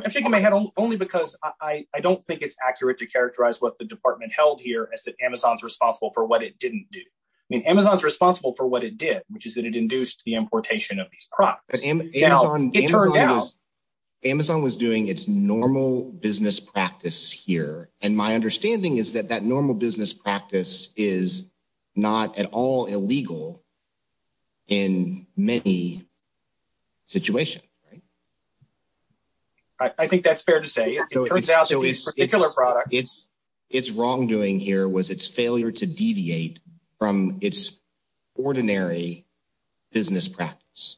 I'm shaking my head only because I don't think it's accurate to characterize what the department held here as that Amazon's responsible for what it didn't do. I mean, Amazon's responsible for what it did, which is that it induced the importation of these crops. It turned out Amazon was doing its normal business practice here. And my understanding is that that normal business practice is not at all illegal in many situations. I think that's fair to say. It turns out to be a particular product. Its wrongdoing here was its failure to deviate from its ordinary business practice.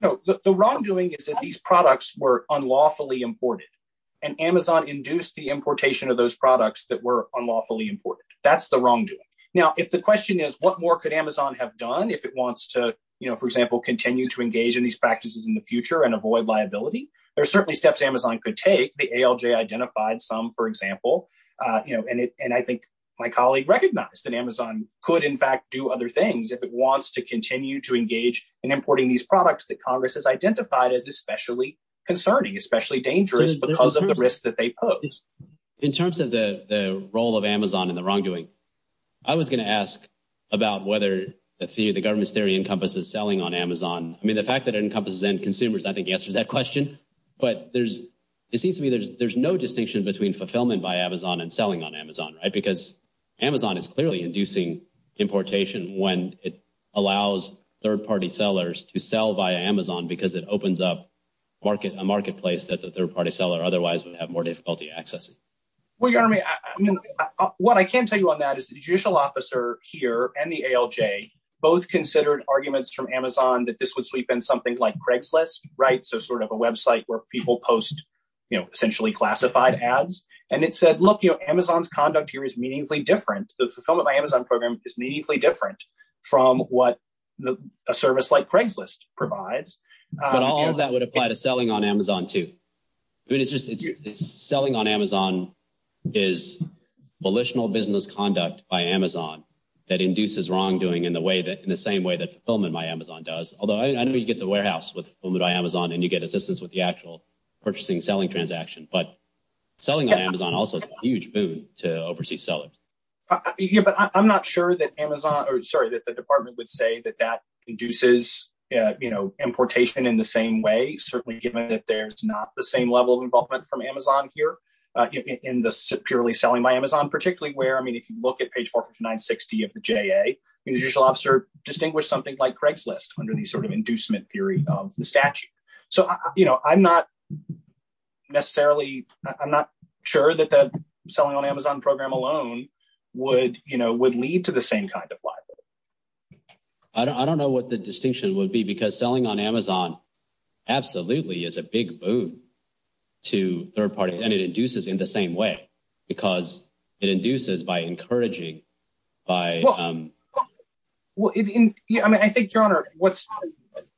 The wrongdoing is that these products were unlawfully imported and Amazon induced the importation of those products that were unlawfully imported. That's the wrongdoing. Now, if the question is, what more could Amazon have done if it wants to, you know, for example, continue to engage in these practices in the future and avoid liability? There are certainly steps Amazon could take. The ALJ identified some, for example. And I think my colleague recognized that Amazon could, in fact, do other things if it wants to continue to engage in importing these products that Congress has identified as especially concerning, especially dangerous because of the risk that they pose. In terms of the role of Amazon and the wrongdoing, I was going to ask about whether the government's theory encompasses selling on Amazon. I mean, the fact that it encompasses end consumers, I think, answers that question. But there's it seems to me there's no distinction between fulfillment by Amazon and selling on Amazon. Because Amazon is clearly inducing importation when it allows third party sellers to sell via Amazon because it opens up a marketplace that the third party seller otherwise would have more difficulty accessing. What I can tell you on that is the judicial officer here and the ALJ both considered arguments from Amazon that this would sweep in something like Craigslist, right? So sort of a website where people post, you know, essentially classified ads. And it said, look, you know, Amazon's conduct here is meaningfully different. The fulfillment by Amazon program is meaningfully different from what a service like Craigslist provides. But all of that would apply to selling on Amazon, too. Selling on Amazon is volitional business conduct by Amazon that induces wrongdoing in the same way that fulfillment by Amazon does. Although I know you get the warehouse with fulfillment by Amazon and you get assistance with the actual purchasing selling transaction. But selling on Amazon also is a huge boon to overseas sellers. But I'm not sure that Amazon or sorry, that the department would say that that induces, you know, importation in the same way. Certainly given that there's not the same level of involvement from Amazon here in the purely selling by Amazon, particularly where, I mean, if you look at page 4960 of the JA, the judicial officer distinguished something like Craigslist under the sort of inducement theory of the statute. So, you know, I'm not necessarily I'm not sure that the selling on Amazon program alone would, you know, would lead to the same kind of. I don't know what the distinction would be because selling on Amazon absolutely is a big boon to third parties and it induces in the same way because it induces by encouraging by. Well, I think what's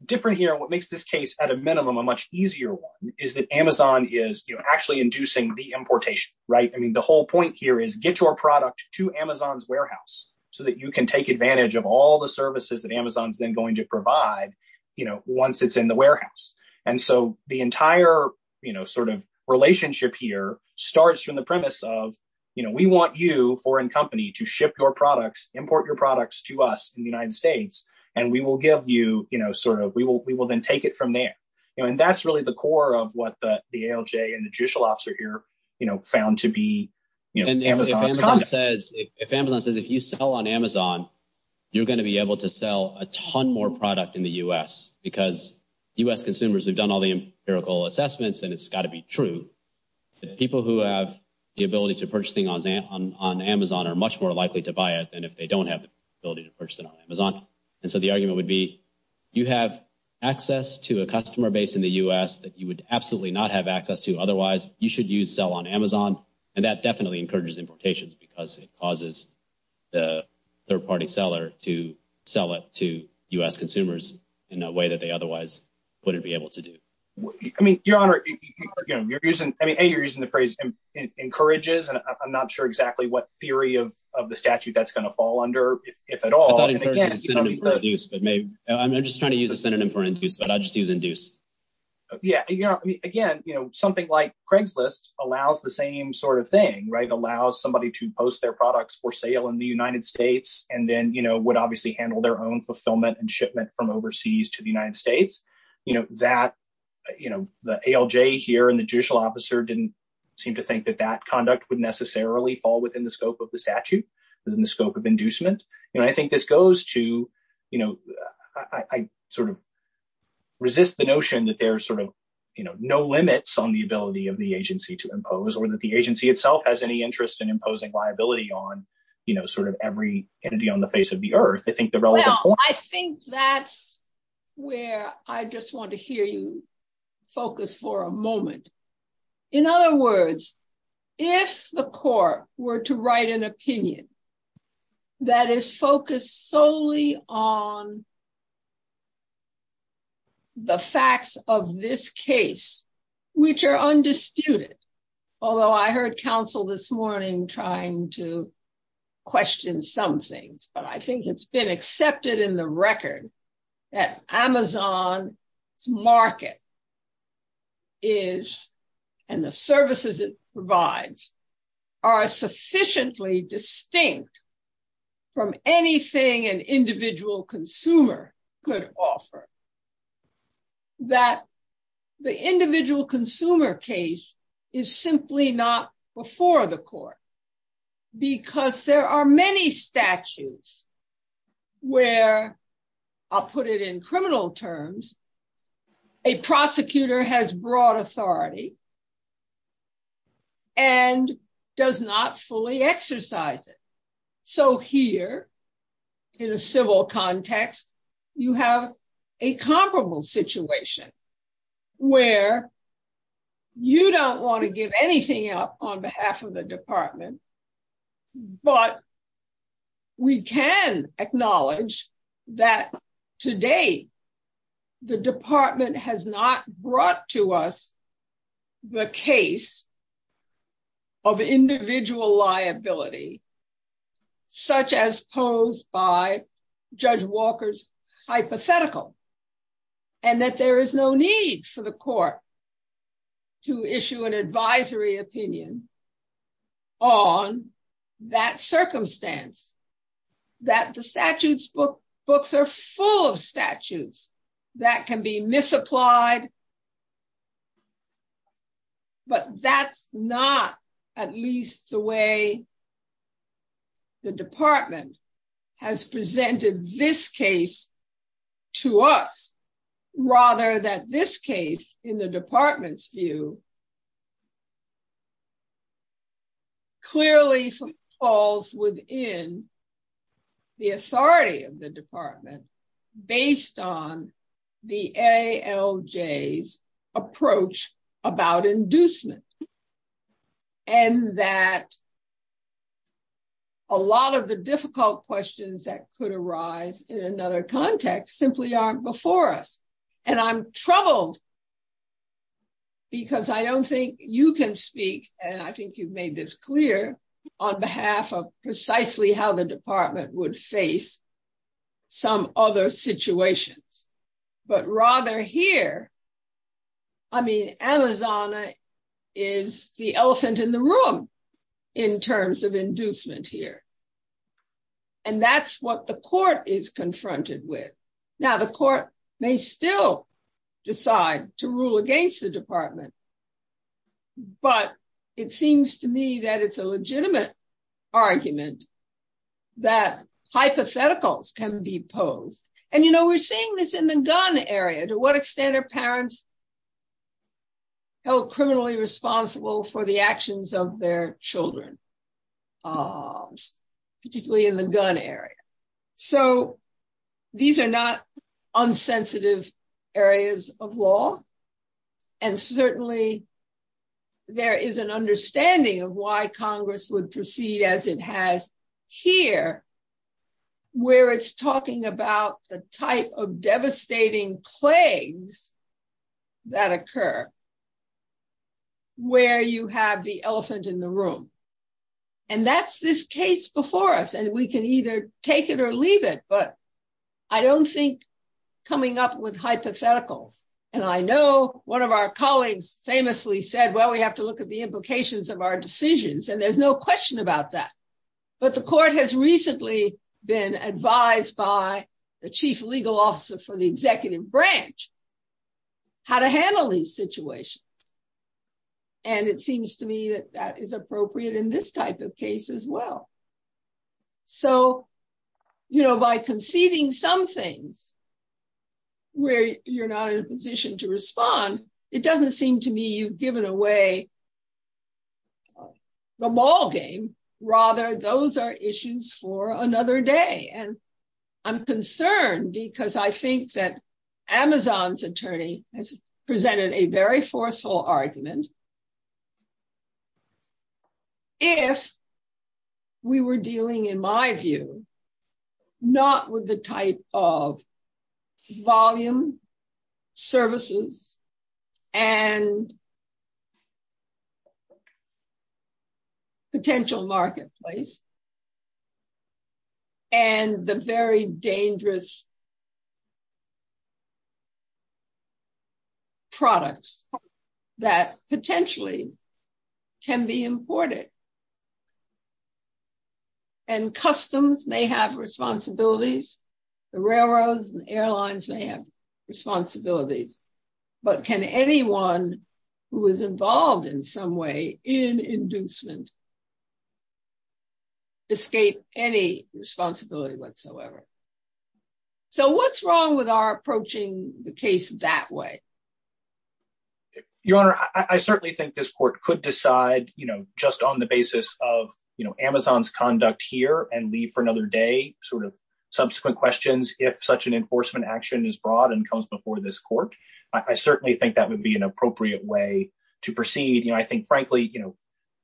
different here, what makes this case at a minimum, a much easier one is that Amazon is actually inducing the importation. Right. I mean, the whole point here is get your product to Amazon's warehouse so that you can take advantage of all the services that Amazon's then going to provide, you know, once it's in the warehouse. And so the entire sort of relationship here starts from the premise of, you know, we want you or in company to ship your products, import your products to us in the United States. And we will give you sort of we will we will then take it from there. And that's really the core of what the ALJ and the judicial officer here found to be. If Amazon says if you sell on Amazon, you're going to be able to sell a ton more product in the U.S. because U.S. consumers have done all the empirical assessments and it's got to be true. The people who have the ability to purchase things on Amazon are much more likely to buy it than if they don't have the ability to purchase it on Amazon. And so the argument would be you have access to a customer base in the U.S. that you would absolutely not have access to. Otherwise, you should use sell on Amazon. And that definitely encourages implications because it causes the third party seller to sell it to U.S. consumers in a way that they otherwise wouldn't be able to do. I mean, your honor, again, you're using I mean, hey, you're using the phrase encourages. And I'm not sure exactly what theory of the statute that's going to fall under, if at all. I'm just trying to use a synonym for induce, but I just use induce. Yeah. Again, you know, something like Craigslist allows the same sort of thing, right? Allows somebody to post their products for sale in the United States and then, you know, would obviously handle their own fulfillment and shipment from overseas to the United States. Because, you know, that, you know, the ALJ here and the judicial officer didn't seem to think that that conduct would necessarily fall within the scope of the statute, within the scope of inducement. And I think this goes to, you know, I sort of resist the notion that there are sort of, you know, no limits on the ability of the agency to impose or that the agency itself has any interest in imposing liability on, you know, sort of every entity on the face of the earth. I think that's where I just want to hear you focus for a moment. In other words, if the court were to write an opinion that is focused solely on the facts of this case, which are undisputed. Although I heard counsel this morning trying to question some things, but I think it's been accepted in the record that Amazon's market is, and the services it provides, are sufficiently distinct from anything an individual consumer could offer. That the individual consumer case is simply not before the court. Because there are many statutes where, I'll put it in criminal terms, a prosecutor has broad authority and does not fully exercise it. So here, in a civil context, you have a comparable situation where you don't want to give anything up on behalf of the department, but we can acknowledge that today the department has not brought to us the case of individual liability. Such as posed by Judge Walker's hypothetical. And that there is no need for the court to issue an advisory opinion on that circumstance. And that the statute's books are full of statutes that can be misapplied, but that's not at least the way the department has presented this case to us. Rather that this case, in the department's view, clearly falls within the authority of the department, based on the ALJ's approach about inducement. And that a lot of the difficult questions that could arise in another context simply aren't before us. And I'm troubled because I don't think you can speak, and I think you've made this clear, on behalf of precisely how the department would face some other situations. But rather here, I mean, Elizana is the elephant in the room in terms of inducement here. And that's what the court is confronted with. Now, the court may still decide to rule against the department, but it seems to me that it's a legitimate argument that hypotheticals can be posed. And, you know, we're seeing this in the gun area. To what extent are parents held criminally responsible for the actions of their children, particularly in the gun area? So these are not unsensitive areas of law. And certainly there is an understanding of why Congress would proceed as it has here, where it's talking about the type of devastating plagues that occur, where you have the elephant in the room. And that's this case before us, and we can either take it or leave it. But I don't think coming up with hypotheticals, and I know one of our colleagues famously said, well, we have to look at the implications of our decisions, and there's no question about that. But the court has recently been advised by the chief legal officer for the executive branch how to handle these situations. And it seems to me that that is appropriate in this type of case as well. So, you know, by conceding some things where you're not in a position to respond, it doesn't seem to me you've given away the ball game. Rather, those are issues for another day. And I'm concerned because I think that Amazon's attorney has presented a very forceful argument if we were dealing, in my view, not with the type of volume, services, and potential marketplace. And the very dangerous products that potentially can be imported. And customs may have responsibilities. The railroads and airlines may have responsibilities. But can anyone who is involved in some way in inducement escape any responsibility whatsoever? So what's wrong with our approaching the case that way? Your Honor, I certainly think this court could decide, you know, just on the basis of, you know, Amazon's conduct here and leave for another day sort of subsequent questions if such an enforcement action is brought and comes before this court. I certainly think that would be an appropriate way to proceed. You know, I think, frankly, you know,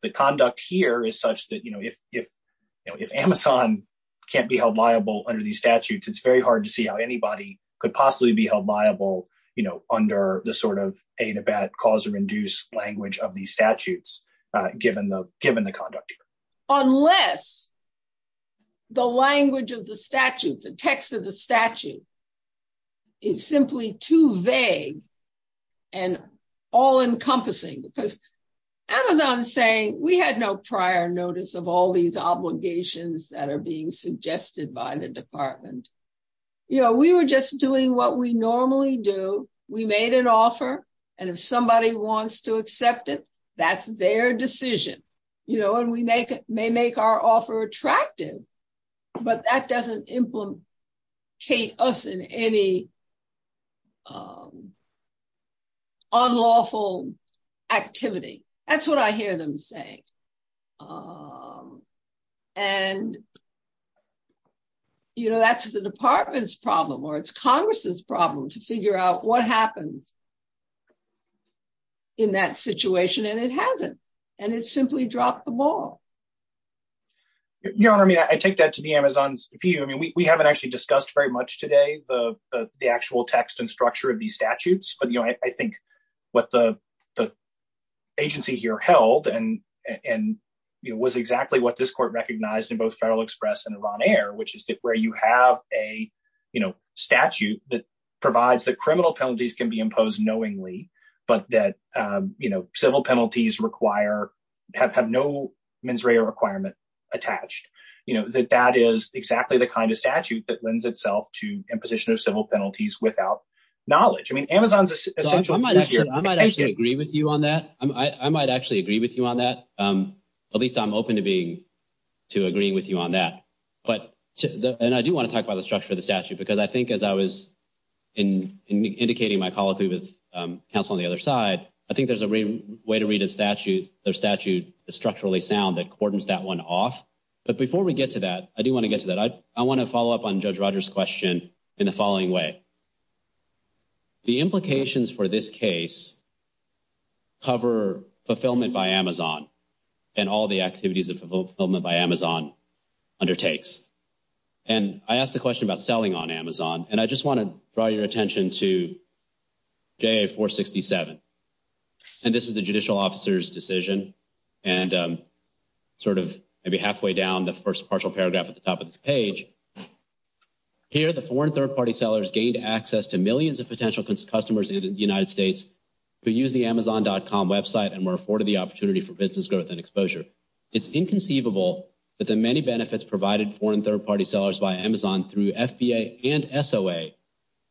the conduct here is such that, you know, if Amazon can't be held liable under these statutes, it's very hard to see how anybody could possibly be held liable, you know, under the sort of pay-to-bat, cause-induced language of these statutes, given the conduct here. Unless the language of the statute, the text of the statute is simply too vague and all-encompassing. Because Amazon is saying, we had no prior notice of all these obligations that are being suggested by the department. You know, we were just doing what we normally do. We made an offer. And if somebody wants to accept it, that's their decision. You know, and we may make our offer attractive, but that doesn't implicate us in any unlawful activity. That's what I hear them say. And, you know, that's the department's problem or it's Congress's problem to figure out what happened in that situation, and it hasn't. And it's simply dropped the ball. Your Honor, I mean, I take that to be Amazon's view. I mean, we haven't actually discussed very much today the actual text and structure of these statutes. But, you know, I think what the agency here held and was exactly what this court recognized in both Federal Express and Iran Air, which is that where you have a statute that provides that criminal penalties can be imposed knowingly, but that civil penalties have no mens rea requirement attached, that that is exactly the kind of statute that lends itself to imposition of civil penalties without knowledge. I might actually agree with you on that. I might actually agree with you on that. At least I'm open to agreeing with you on that. And I do want to talk about the structure of the statute because I think as I was indicating my call to counsel on the other side, I think there's a way to read a statute that's structurally sound that cordons that one off. But before we get to that, I do want to get to that. I want to follow up on Judge Rogers' question in the following way. The implications for this case cover fulfillment by Amazon and all the activities of fulfillment by Amazon undertakes. And I asked the question about selling on Amazon, and I just want to draw your attention to JA 467. And this is the judicial officer's decision. And sort of maybe halfway down the first partial paragraph at the top of this page, here the foreign third-party sellers gained access to millions of potential customers in the United States who use the Amazon.com website and were afforded the opportunity for business growth and exposure. It's inconceivable that the many benefits provided foreign third-party sellers via Amazon through FBA and SOA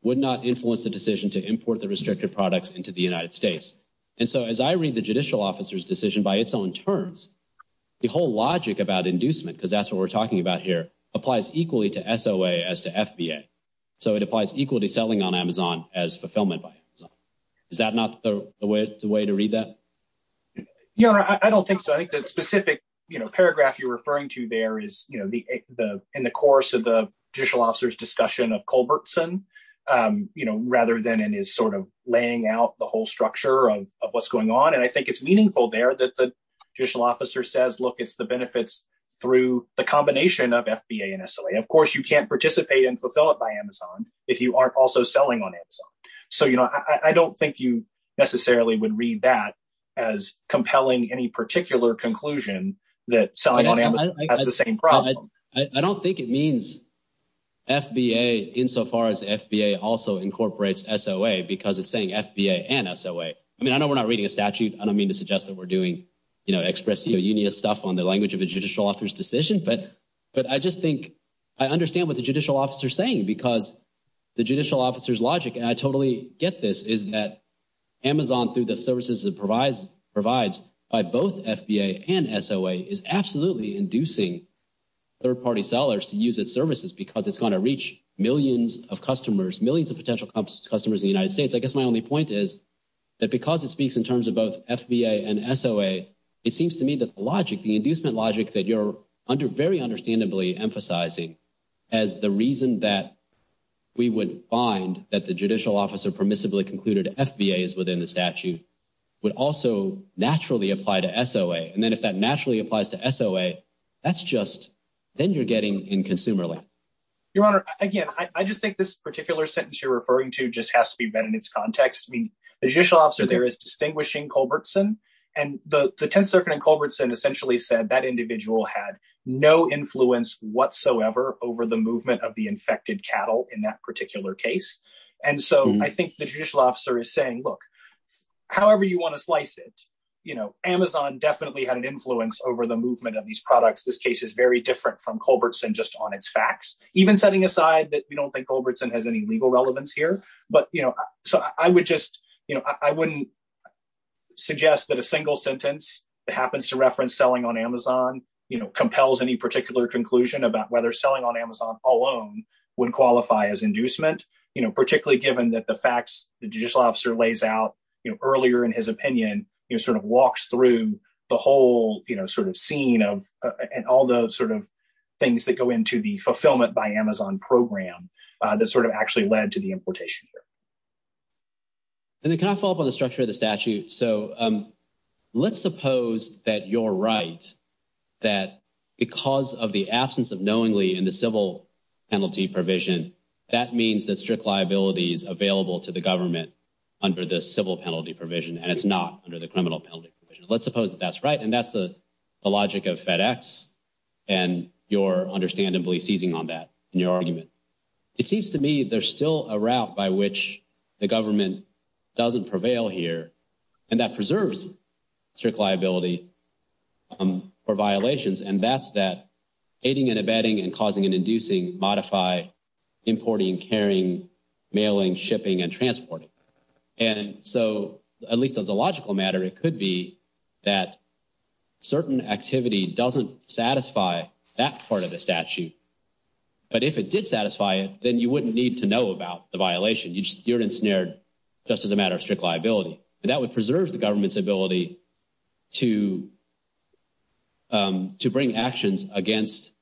would not influence the decision to import the restricted products into the United States. And so as I read the judicial officer's decision by its own terms, the whole logic about inducement, because that's what we're talking about here, applies equally to SOA as to FBA. So it applies equally to selling on Amazon as fulfillment by Amazon. Is that not the way to read that? Yeah, I don't think so. I think the specific, you know, paragraph you're referring to there is, you know, in the course of the judicial officer's discussion of Culbertson, you know, rather than in his sort of laying out the whole structure of what's going on. And I think it's meaningful there that the judicial officer says, look, it's the benefits through the combination of FBA and SOA. Of course, you can't participate in fulfillment by Amazon if you aren't also selling on Amazon. So, you know, I don't think you necessarily would read that as compelling any particular conclusion that selling on Amazon has the same problem. I don't think it means FBA insofar as FBA also incorporates SOA, because it's saying FBA and SOA. I mean, I know we're not reading a statute. I don't mean to suggest that we're doing, you know, expressing a union stuff on the language of a judicial officer's decision. But I just think I understand what the judicial officer's saying, because the judicial officer's logic, and I totally get this, is that Amazon through the services it provides by both FBA and SOA is absolutely inducing third-party sellers to use its services because it's going to reach millions of customers, millions of potential customers in the United States. I guess my only point is that because it speaks in terms of both FBA and SOA, it seems to me that the logic, the inducement logic, that you're very understandably emphasizing as the reason that we would find that the judicial officer permissibly concluded FBA is within the statute would also naturally apply to SOA. And then if that naturally applies to SOA, that's just then you're getting in consumer land. Your Honor, again, I just think this particular sentence you're referring to just has to be read in its context. The judicial officer there is distinguishing Culbertson, and the 10th Circuit in Culbertson essentially said that that individual had no influence whatsoever over the movement of the infected cattle in that particular case. And so I think the judicial officer is saying, look, however you want to slice it, you know, Amazon definitely had an influence over the movement of these products. This case is very different from Culbertson just on its facts, even setting aside that you don't think Culbertson has any legal relevance here. But, you know, I would just, you know, I wouldn't suggest that a single sentence that happens to reference selling on Amazon, you know, compels any particular conclusion about whether selling on Amazon alone would qualify as inducement, you know, particularly given that the facts the judicial officer lays out, you know, earlier in his opinion, you know, sort of walks through the whole, you know, sort of scene and all those sort of things that go into the fulfillment by Amazon program that sort of actually led to the importation here. Can I follow up on the structure of the statute? So let's suppose that you're right, that because of the absence of knowingly in the civil penalty provision, that means that strict liability is available to the government under the civil penalty provision and it's not under the criminal penalty provision. Let's suppose that's right and that's the logic of FedEx and you're understandably seizing on that in your argument. It seems to me there's still a route by which the government doesn't prevail here and that preserves strict liability for violations and that's that aiding and abetting and causing and inducing, modify, importing, carrying, mailing, shipping, and transporting. And so, at least as a logical matter, it could be that certain activity doesn't satisfy that part of the statute. But if it did satisfy it, then you wouldn't need to know about the violation. You just seared and snared just as a matter of strict liability. That would preserve the government's ability to bring actions against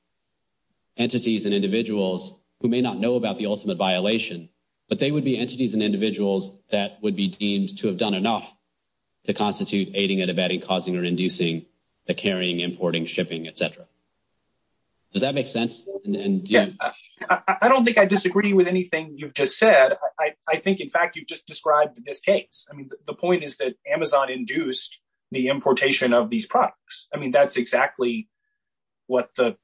entities and individuals who may not know about the ultimate violation, but they would be entities and individuals that would be deemed to have done enough to constitute aiding and abetting, causing and inducing, the carrying, importing, shipping, et cetera. Does that make sense? I don't think I disagree with anything you just said. I think, in fact, you just described this case. I mean, the point is that Amazon induced the importation of these products. I mean, that's exactly what the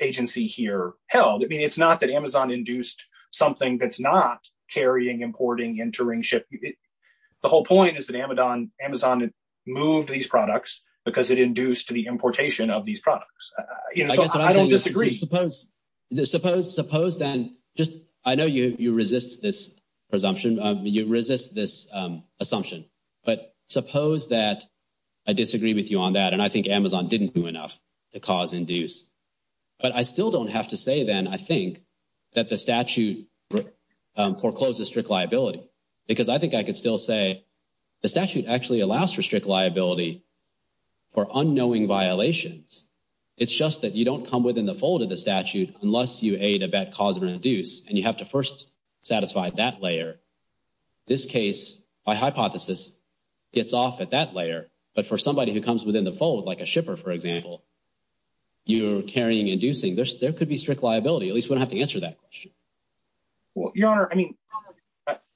agency here held. I mean, it's not that Amazon induced something that's not carrying, importing, entering, shipping. The whole point is that Amazon moved these products because it induced the importation of these products. I don't disagree. I know you resist this assumption, but suppose that I disagree with you on that, and I think Amazon didn't do enough to cause and induce. But I still don't have to say then, I think, that the statute forecloses strict liability, because I think I could still say the statute actually allows for strict liability for unknowing violations. It's just that you don't come within the fold of the statute unless you aid, abet, cause, and induce, and you have to first satisfy that layer. This case, by hypothesis, gets off at that layer, but for somebody who comes within the fold, like a shipper, for example, you're carrying, inducing, there could be strict liability. At least we don't have to answer that question. Your Honor, I mean,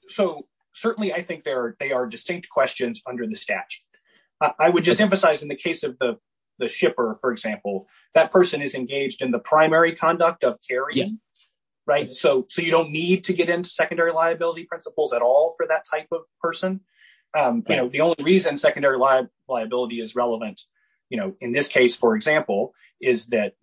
so certainly I think there are distinct questions under the statute. I would just emphasize, in the case of the shipper, for example, that person is engaged in the primary conduct of carrying. So you don't need to get into secondary liability principles at all for that type of person. The only reason secondary liability is relevant, in this case, for example, is that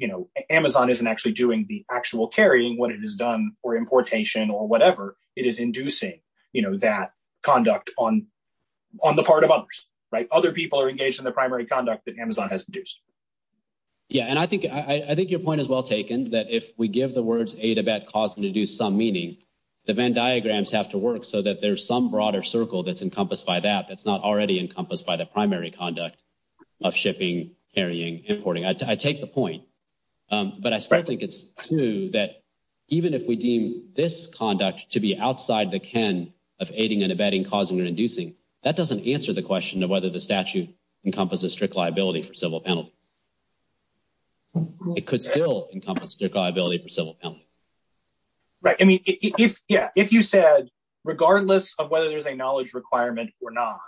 Amazon isn't actually doing the actual carrying, what it has done for importation or whatever. It is inducing that conduct on the part of others. Other people are engaged in the primary conduct that Amazon has induced. Yeah, and I think your point is well taken, that if we give the words aid, abet, cause, and induce some meaning, the Venn diagrams have to work so that there's some broader circle that's encompassed by that that's not already encompassed by the primary conduct of shipping, carrying, importing. I take the point, but I still think it's true that even if we deem this conduct to be outside the ken of aiding and abetting, causing and inducing, that doesn't answer the question of whether the statute encompasses strict liability for civil penalty. It could still encompass strict liability for civil penalty. Right, I mean, yeah, if you said, regardless of whether there's a knowledge requirement or not,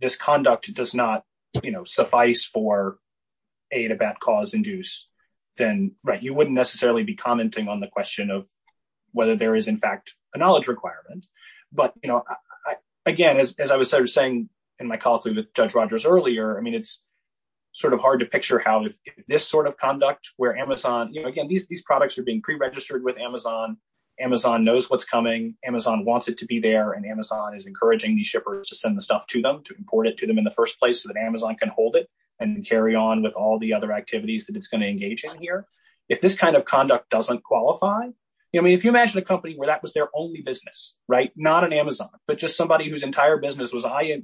this conduct does not, you know, suffice for aid, abet, cause, induce, then, right, you wouldn't necessarily be commenting on the question of whether there is, in fact, a knowledge requirement. But, you know, again, as I was sort of saying in my call with Judge Rogers earlier, I mean, it's sort of hard to picture how this sort of conduct where Amazon, you know, again, these products are being pre-registered with Amazon, Amazon knows what's coming, Amazon wants it to be there, and Amazon is encouraging these shippers to send the stuff to them, to import it to them in the first place so that Amazon can hold it and carry on with all the other activities that it's going to engage in here. If this kind of conduct doesn't qualify, I mean, if you imagine a company where that was their only business, right, not an Amazon, but just somebody whose entire business was, I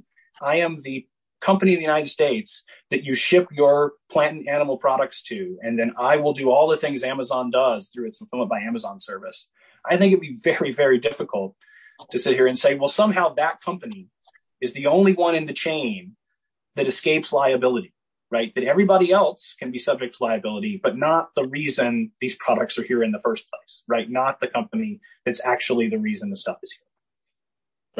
am the company in the United States that you ship your plant and animal products to, and then I will do all the things Amazon does through its fulfillment by Amazon service, I think it would be very, very difficult to sit here and say, well, somehow that company is the only one in the chain that escapes liability, right, that everybody else can be subject to liability, but not the reason these products are here in the first place, right, not the company that's actually the reason the stuff is here.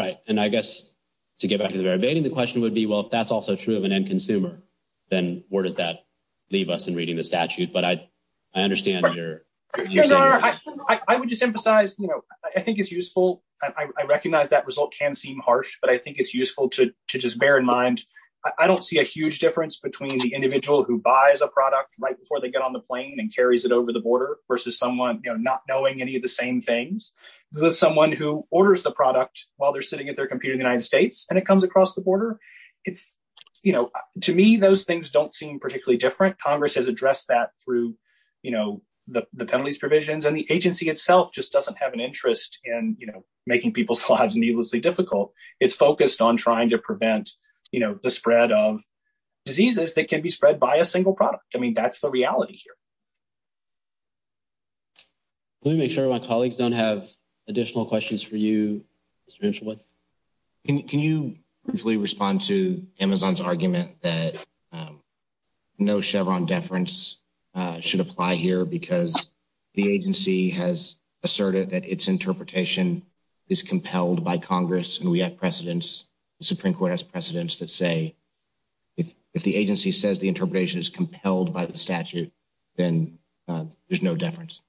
Right, and I guess to get back to the very beginning, the question would be, well, if that's also true of an end consumer, then where does that leave us in reading the statute? But I understand your view. I would just emphasize, you know, I think it's useful. I recognize that result can seem harsh, but I think it's useful to just bear in mind, I don't see a huge difference between the individual who buys a product right before they get on the plane and carries it over the border, versus someone, you know, not knowing any of the same things, versus someone who orders the product while they're sitting at their computer in the United States and it comes across the border, it's, you know, to me those things don't seem particularly different. Congress has addressed that through, you know, the penalties provisions and the agency itself just doesn't have an interest in, you know, making people's lives needlessly difficult. It's focused on trying to prevent, you know, the spread of diseases that can be spread by a single product. I mean, that's the reality here. Let me make sure my colleagues don't have additional questions for you. Can you briefly respond to Amazon's argument that no Chevron deference should apply here because the agency has asserted that its interpretation is compelled by Congress and we have precedents, the Supreme Court has precedents that say if the agency says the interpretation is compelled by the statute, then there's no deference.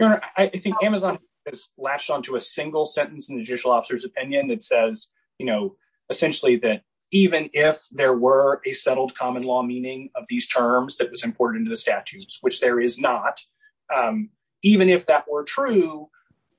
I think Amazon has latched onto a single sentence in the judicial officer's opinion that says, you know, essentially that even if there were a settled common law meaning of these terms that was important to the statutes, which there is not, even if that were true,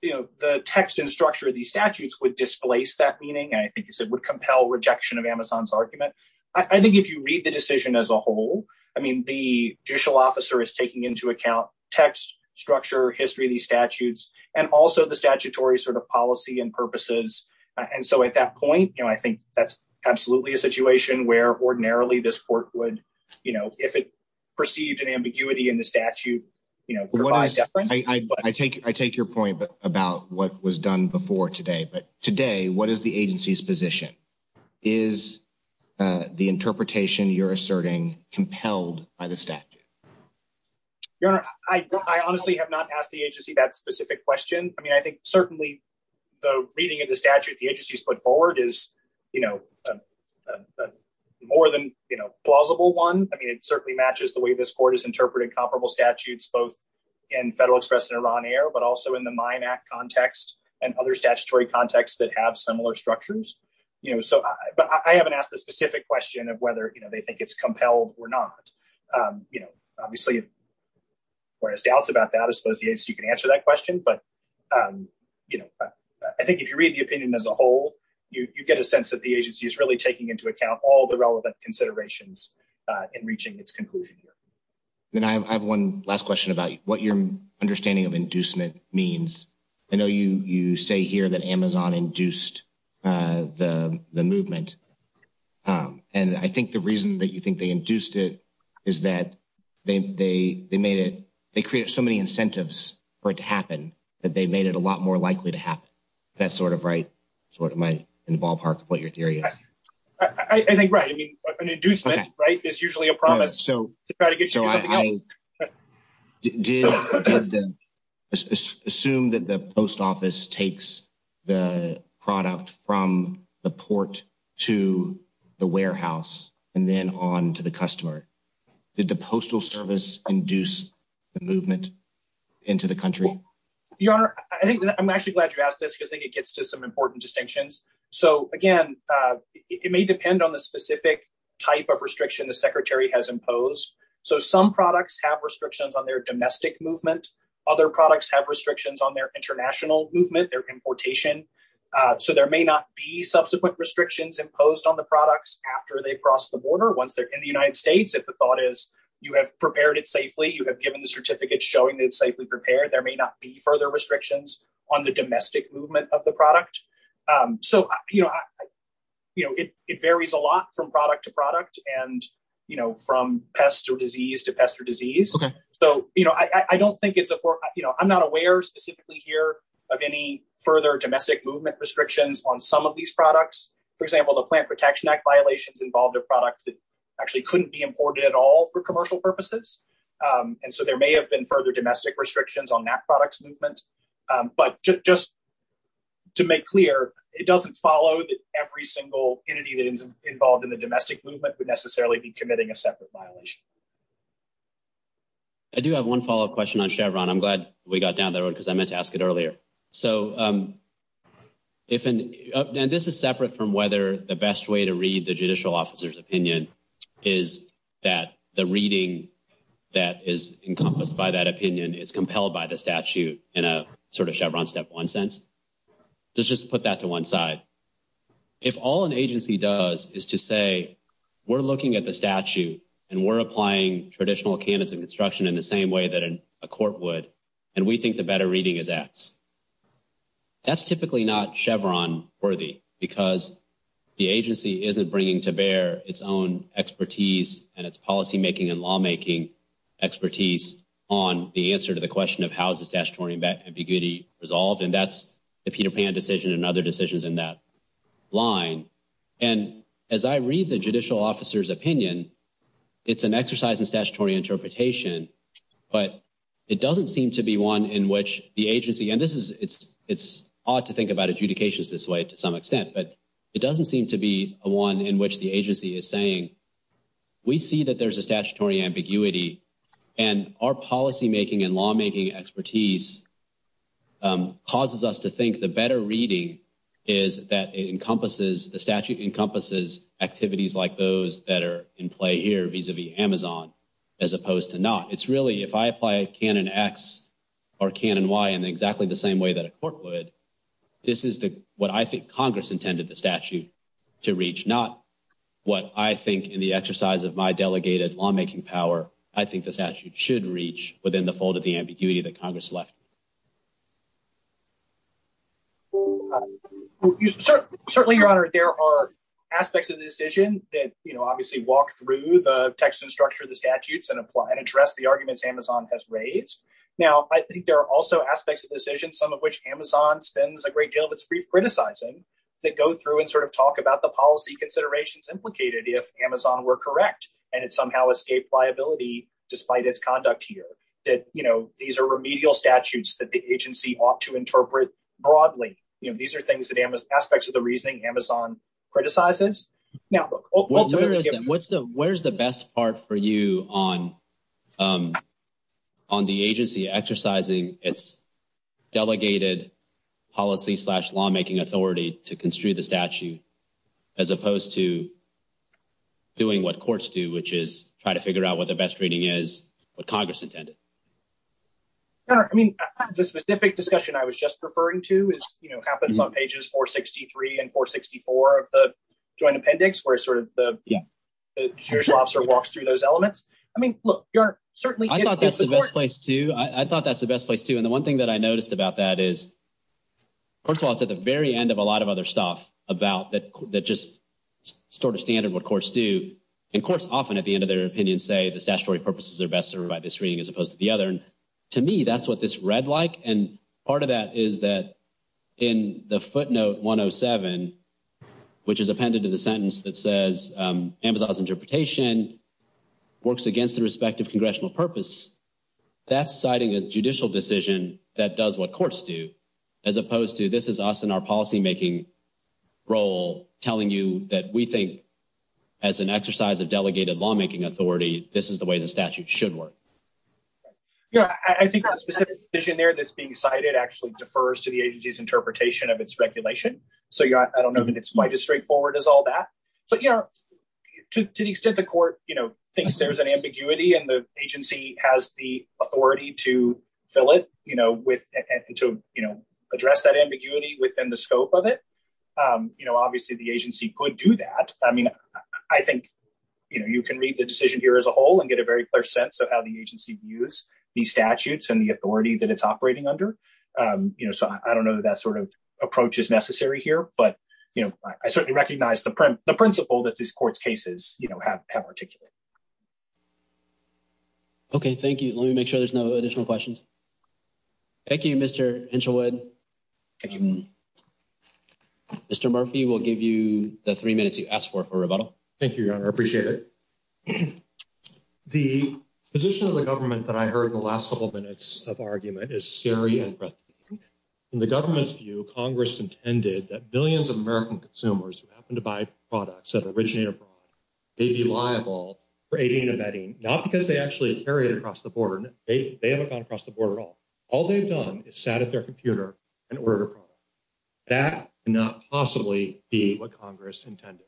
you know, the text and structure of these statutes would displace that meaning. And I think you said would compel rejection of Amazon's argument. I think if you read the decision as a whole, I mean, the judicial officer is taking into account text, structure, history of these statutes, and also the statutory sort of policy and purposes. And so at that point, you know, I think that's absolutely a situation where ordinarily this court would, you know, if it perceived an ambiguity in the statute, you know, I take your point about what was done before today, but today what is the agency's position? Is the interpretation you're asserting compelled by the statute? Your Honor, I honestly have not asked the agency that specific question. I mean, I think certainly the reading of the statute, the agency's put forward is, you know, more than plausible one. I mean, it certainly matches the way this court is interpreting comparable statutes, both in federal express and Iran air, but also in the mine act context and other statutory contexts that have similar structures. You know, so I, but I haven't asked the specific question of whether they think it's compelled or not, you know, obviously. Whereas doubts about that as opposed to, as you can answer that question, but, you know, I think if you read the opinion as a whole, you get a sense that the agency is really taking into account all the relevant considerations in reaching its conclusion. And I have one last question about what your understanding of inducement means. I know you, you say here that Amazon induced the, the movement. And I think the reason that you think they induced it is that they, they, they made it, they created so many incentives for it to happen that they made it a lot more likely to happen. That's sort of right. So what might involve what your theory is. I think, right. I mean, an inducement, right. It's usually a promise. So try to get you. Assume that the post office takes the product from the port to the warehouse and then on to the customer. Did the postal service induce the movement into the country? I think I'm actually glad you asked this because I think it gets to some important distinctions. So again, it may depend on the specific type of restriction the secretary has imposed. So some products have restrictions on their domestic movement. Other products have restrictions on their international movement, their importation. So there may not be subsequent restrictions imposed on the products after they crossed the border. Once they're in the United States, if the thought is you have prepared it safely, you have given the certificate showing that it's safely prepared. There may not be further restrictions on the domestic movement of the product. So I think it varies a lot from product to product and, you know, from pest or disease to pest or disease. So, you know, I don't think it's a, you know, I'm not aware specifically here of any further domestic movement restrictions on some of these products. For example, the plant protection act violations involved a product that actually couldn't be imported at all for commercial purposes. And so there may have been further domestic restrictions on that product movement. But just to make clear, it doesn't follow that every single entity that is involved in the domestic movement would necessarily be committing a separate violation. I do have one follow-up question on Chevron. I'm glad we got down there because I meant to ask it earlier. So if, and this is separate from whether the best way to read the judicial officer's opinion is that the reading that is encompassed by that agency is that it's not a Chevron, it's not a Chevron step one sense. Let's just put that to one side. If all an agency does is to say, we're looking at the statute and we're applying traditional Canada construction in the same way that a court would. And we think the better reading of that, that's typically not Chevron worthy because the agency isn't bringing to bear its own expertise and its policymaking and lawmaking expertise on the answer to the question of how is the statutory ambiguity resolved? And that's the Peter Pan decision and other decisions in that line. And as I read the judicial officer's opinion, it's an exercise in statutory interpretation, but it doesn't seem to be one in which the agency, and this is, it's, it's odd to think about adjudications this way to some extent, but it doesn't seem to be a one in which the agency is saying, we see that there's a statutory ambiguity and our policymaking and lawmaking expertise causes us to think the better reading is that it encompasses the statute, encompasses activities like those that are in play here vis-a-vis Amazon, as opposed to not. It's really if I apply a Canon X or Canon Y in exactly the same way that a court would, this is the, what I think Congress intended the statute to reach, not what I think in the exercise of my delegated lawmaking power, I think the statute should reach within the fold of the ambiguity that Congress left. Certainly your honor, there are aspects of the decision that, you know, obviously walk through the text and structure of the statutes and apply and address the arguments Amazon has raised. Now I think there are also aspects of the decision, some of which Amazon spends a great deal of its brief criticizing that go through and sort of talk about the policy considerations implicated if Amazon were correct and it somehow escaped liability despite its conduct here that, you know, these are remedial statutes that the agency ought to interpret broadly. You know, these are things that Amazon aspects of the reasoning Amazon criticizes. Where's the best part for you on, on the agency exercising its delegated policy slash lawmaking authority to construe the statute, as opposed to doing what courts do, which is try to figure out what the best reading is what Congress intended. I mean, the specific discussion I was just referring to is, you know, happens on pages four 63 and four 64 of the joint appendix where it sort of the sheriff's officer walks through those elements. I mean, look, certainly I thought that's the best place to, I thought that's the best place to, and the one thing that I noticed about that is first of all, it's at the very end of a lot of other stuff about that, that just sort of standard what courts do. And courts often at the end of their opinion say the statutory purposes are best served by this reading as opposed to the other. And to me, that's what this read like. And part of that is that in the footnote 107, which is appended to the sentence that says Amazon's interpretation works against the respective congressional purpose, that's citing a judicial decision that does what courts do as opposed to this is us in our policymaking role, telling you that we think as an exercise of delegated lawmaking authority, this is the way the statute should work. Yeah. I think that specific vision there that's being cited actually defers to the agency's interpretation of its regulation. So yeah, I don't know. I mean, it's quite as straightforward as all that, but yeah, to, to the extent the court, you know, thinks there's an ambiguity and the agency has the authority to fill it, you know, with, to, you know, address that ambiguity within the scope of it. You know, obviously the agency could do that. I mean, I think, you know, you can read the decision here as a whole and get a very clear sense of how the agency views the statutes and the authority that it's operating under. You know, so I don't know that that sort of approach is necessary here, but you know, I certainly recognize the print the principle that these courts cases, you know, have have articulated. Okay. Thank you. Let me make sure there's no additional questions. Thank you, Mr. Engelwood. Mr. Murphy, we'll give you the three minutes you asked for, for rebuttal. Thank you. I appreciate it. The position of the government that I heard the last couple of minutes of argument is scary. In the government's view, Congress intended that billions of American consumers who happen to buy products that originated, they'd be liable for aiding and abetting, not because they actually carried it across the board. They haven't gone across the board at all. All they've done is sat at their computer and ordered a product. That could not possibly be what Congress intended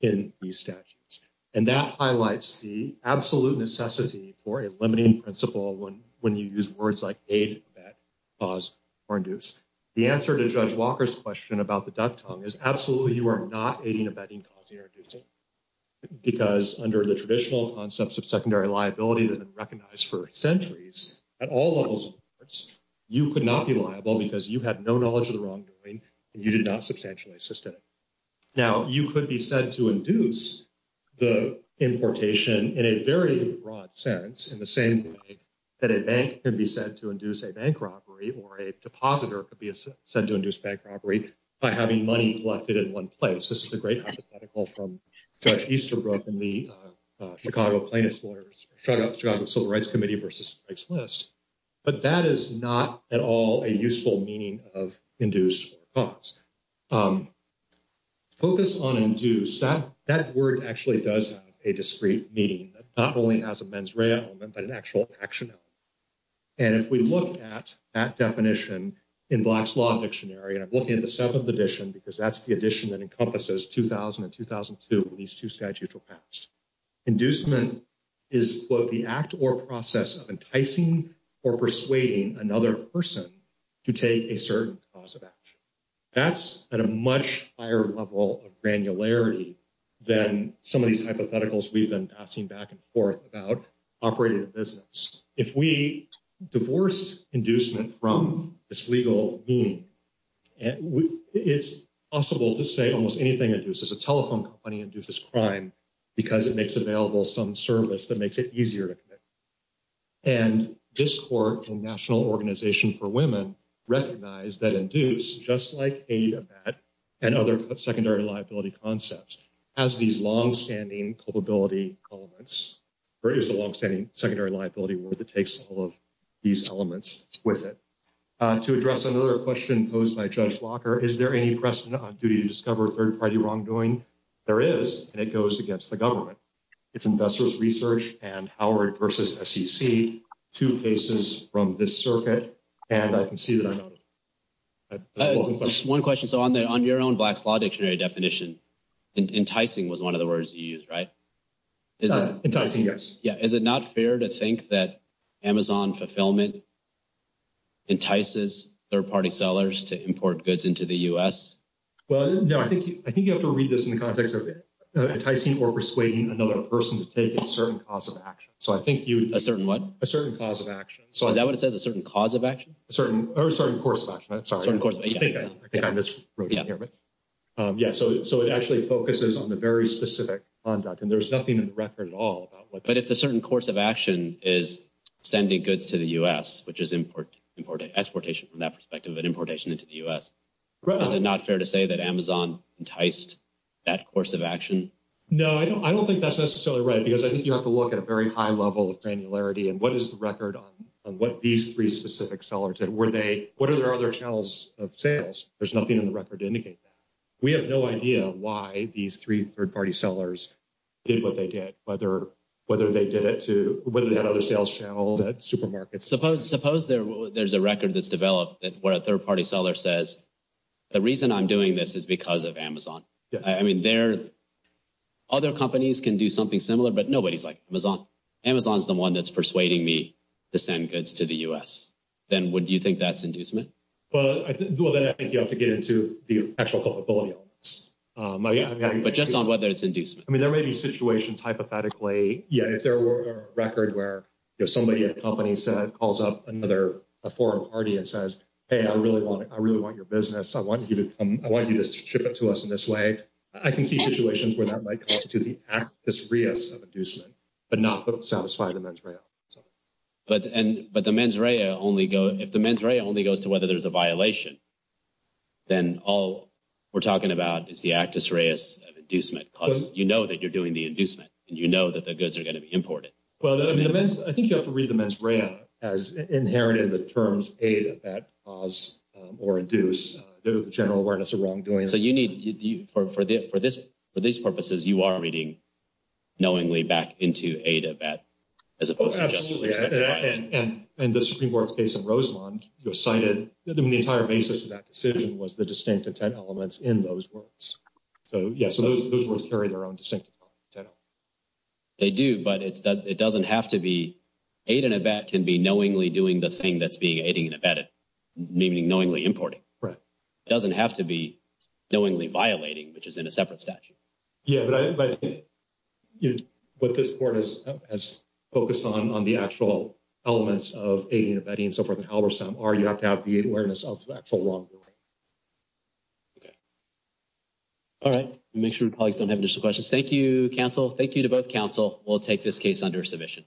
in these statutes. And that highlights the absolute necessity for a limiting principle when, when you use words like aid, abet, cause, or induce. The answer to Judge Walker's question about the duck tongue is absolutely you are not aiding, abetting, causing, or inducing. Because under the traditional concepts of secondary liability, liability has been recognized for centuries at all levels. You could not be liable because you have no knowledge of the wrongdoing and you did not substantially assist it. Now you could be said to induce the importation in a very broad sense, in the same way that a bank can be said to induce a bank robbery or a depositor could be said to induce bank robbery by having money collected in one place. This is a great hypothetical from Judge Easterbrook in the Chicago plaintiffs order, the Chicago Civil Rights Committee versus Mike Smith. But that is not at all a useful meaning of induce or cause. Focus on induce, that word actually does have a discreet meaning. It not only has a mens rea element, but an actual action element. And if we look at that definition in Black's Law Dictionary, and I'm looking at the seventh edition because that's the edition that encompasses 2000 and 2002, these two statutes were passed. Inducement is what the act or process of enticing or persuading another person to take a certain cause of action. That's at a much higher level of granularity than some of these hypotheticals we've been passing back and forth about operating a business. If we divorce inducement from its legal meaning, it's possible to say almost anything that induces a telephone company induces crime because it makes available some service that makes it easier. And this court and National Organization for Women recognize that induce, just like aid and that, and other secondary liability concepts, has these longstanding culpability elements. There is a longstanding secondary liability where it takes all of these elements with it. To address another question posed by Judge Walker, is there any precedent on duty to discover third party wrongdoing? There is, and it goes against the government. It's investors research and Howard versus SEC, two cases from this circuit and I can see that. One question. So on the, on your own black law dictionary definition, enticing was one of the words you use, right? Enticing. Yes. Yeah. Is it not fair to think that Amazon fulfillment entices third party sellers to import goods into the U S? Well, no, I think, I think you have to read this in context of enticing or persuading another person to take a certain cause of action. So I think you, a certain what? A certain cause of action. So is that what it says? A certain cause of action? A certain or a certain course of action. I'm sorry. Yeah. So, so it actually focuses on the very specific conduct and there's nothing in the record at all. But if the certain course of action is sending goods to the U S which is important, important exportation from that perspective, but importation into the U S probably not fair to say that Amazon enticed that course of action. No, I don't, I don't think that's necessarily right because I think you have to look at a very high level of granularity and what is the record on what these three specific sellers and where they, what are their other channels of sales? There's nothing in the record to indicate that we have no idea why these three third party sellers did what they get, whether, whether they did it to whether that other sales channel that supermarkets suppose, suppose there, there's a record that's developed. That's where a third party seller says the reason I'm doing this is because of Amazon. I mean, there are other companies can do something similar, but nobody's like Amazon. Amazon is the one that's persuading me to send goods to the U S then would you think that's inducement? Well, I think you have to get into the actual culpability, but just on whether it's induced, I mean, there may be situations hypothetically yet if there were a record where there's somebody in a company that calls up another, a foreign party and says, Hey, I really want it. I really want your business. I want you to, I want you to ship it to us in this way. I can keep situations where that might cost to the act as reason, but not both satisfied. But, and, but the mens rea only go, if the mens rea only goes to whether there's a violation, then all we're talking about is the actus reas of inducement. Cause you know that you're doing the inducement and you know that the goods are going to be important. Well, I think you have to read the mens rea as inherent in the terms aid, effect, cause, or induce the general awareness of wrongdoing. So you need for this, for these purposes, you are reading knowingly back into aid, effect. And the Supreme Court's case in Roseland was cited in the entire basis of that decision was the distinct intent elements in those books. So yeah. So those words carry their own distinct intent. They do, but it's, it doesn't have to be, aid and effect can be knowingly doing the thing that's being aided and abetted, namely knowingly importing. Right. It doesn't have to be knowingly violating, which is in a separate statute. Yeah. But I think what this court has, has focused on on the actual elements of aiding and abetting and so forth, and however some are, you have to have the awareness of that for long. All right. Make sure your colleagues don't have additional questions. Thank you counsel. Thank you to both counsel. We'll take this case under submission.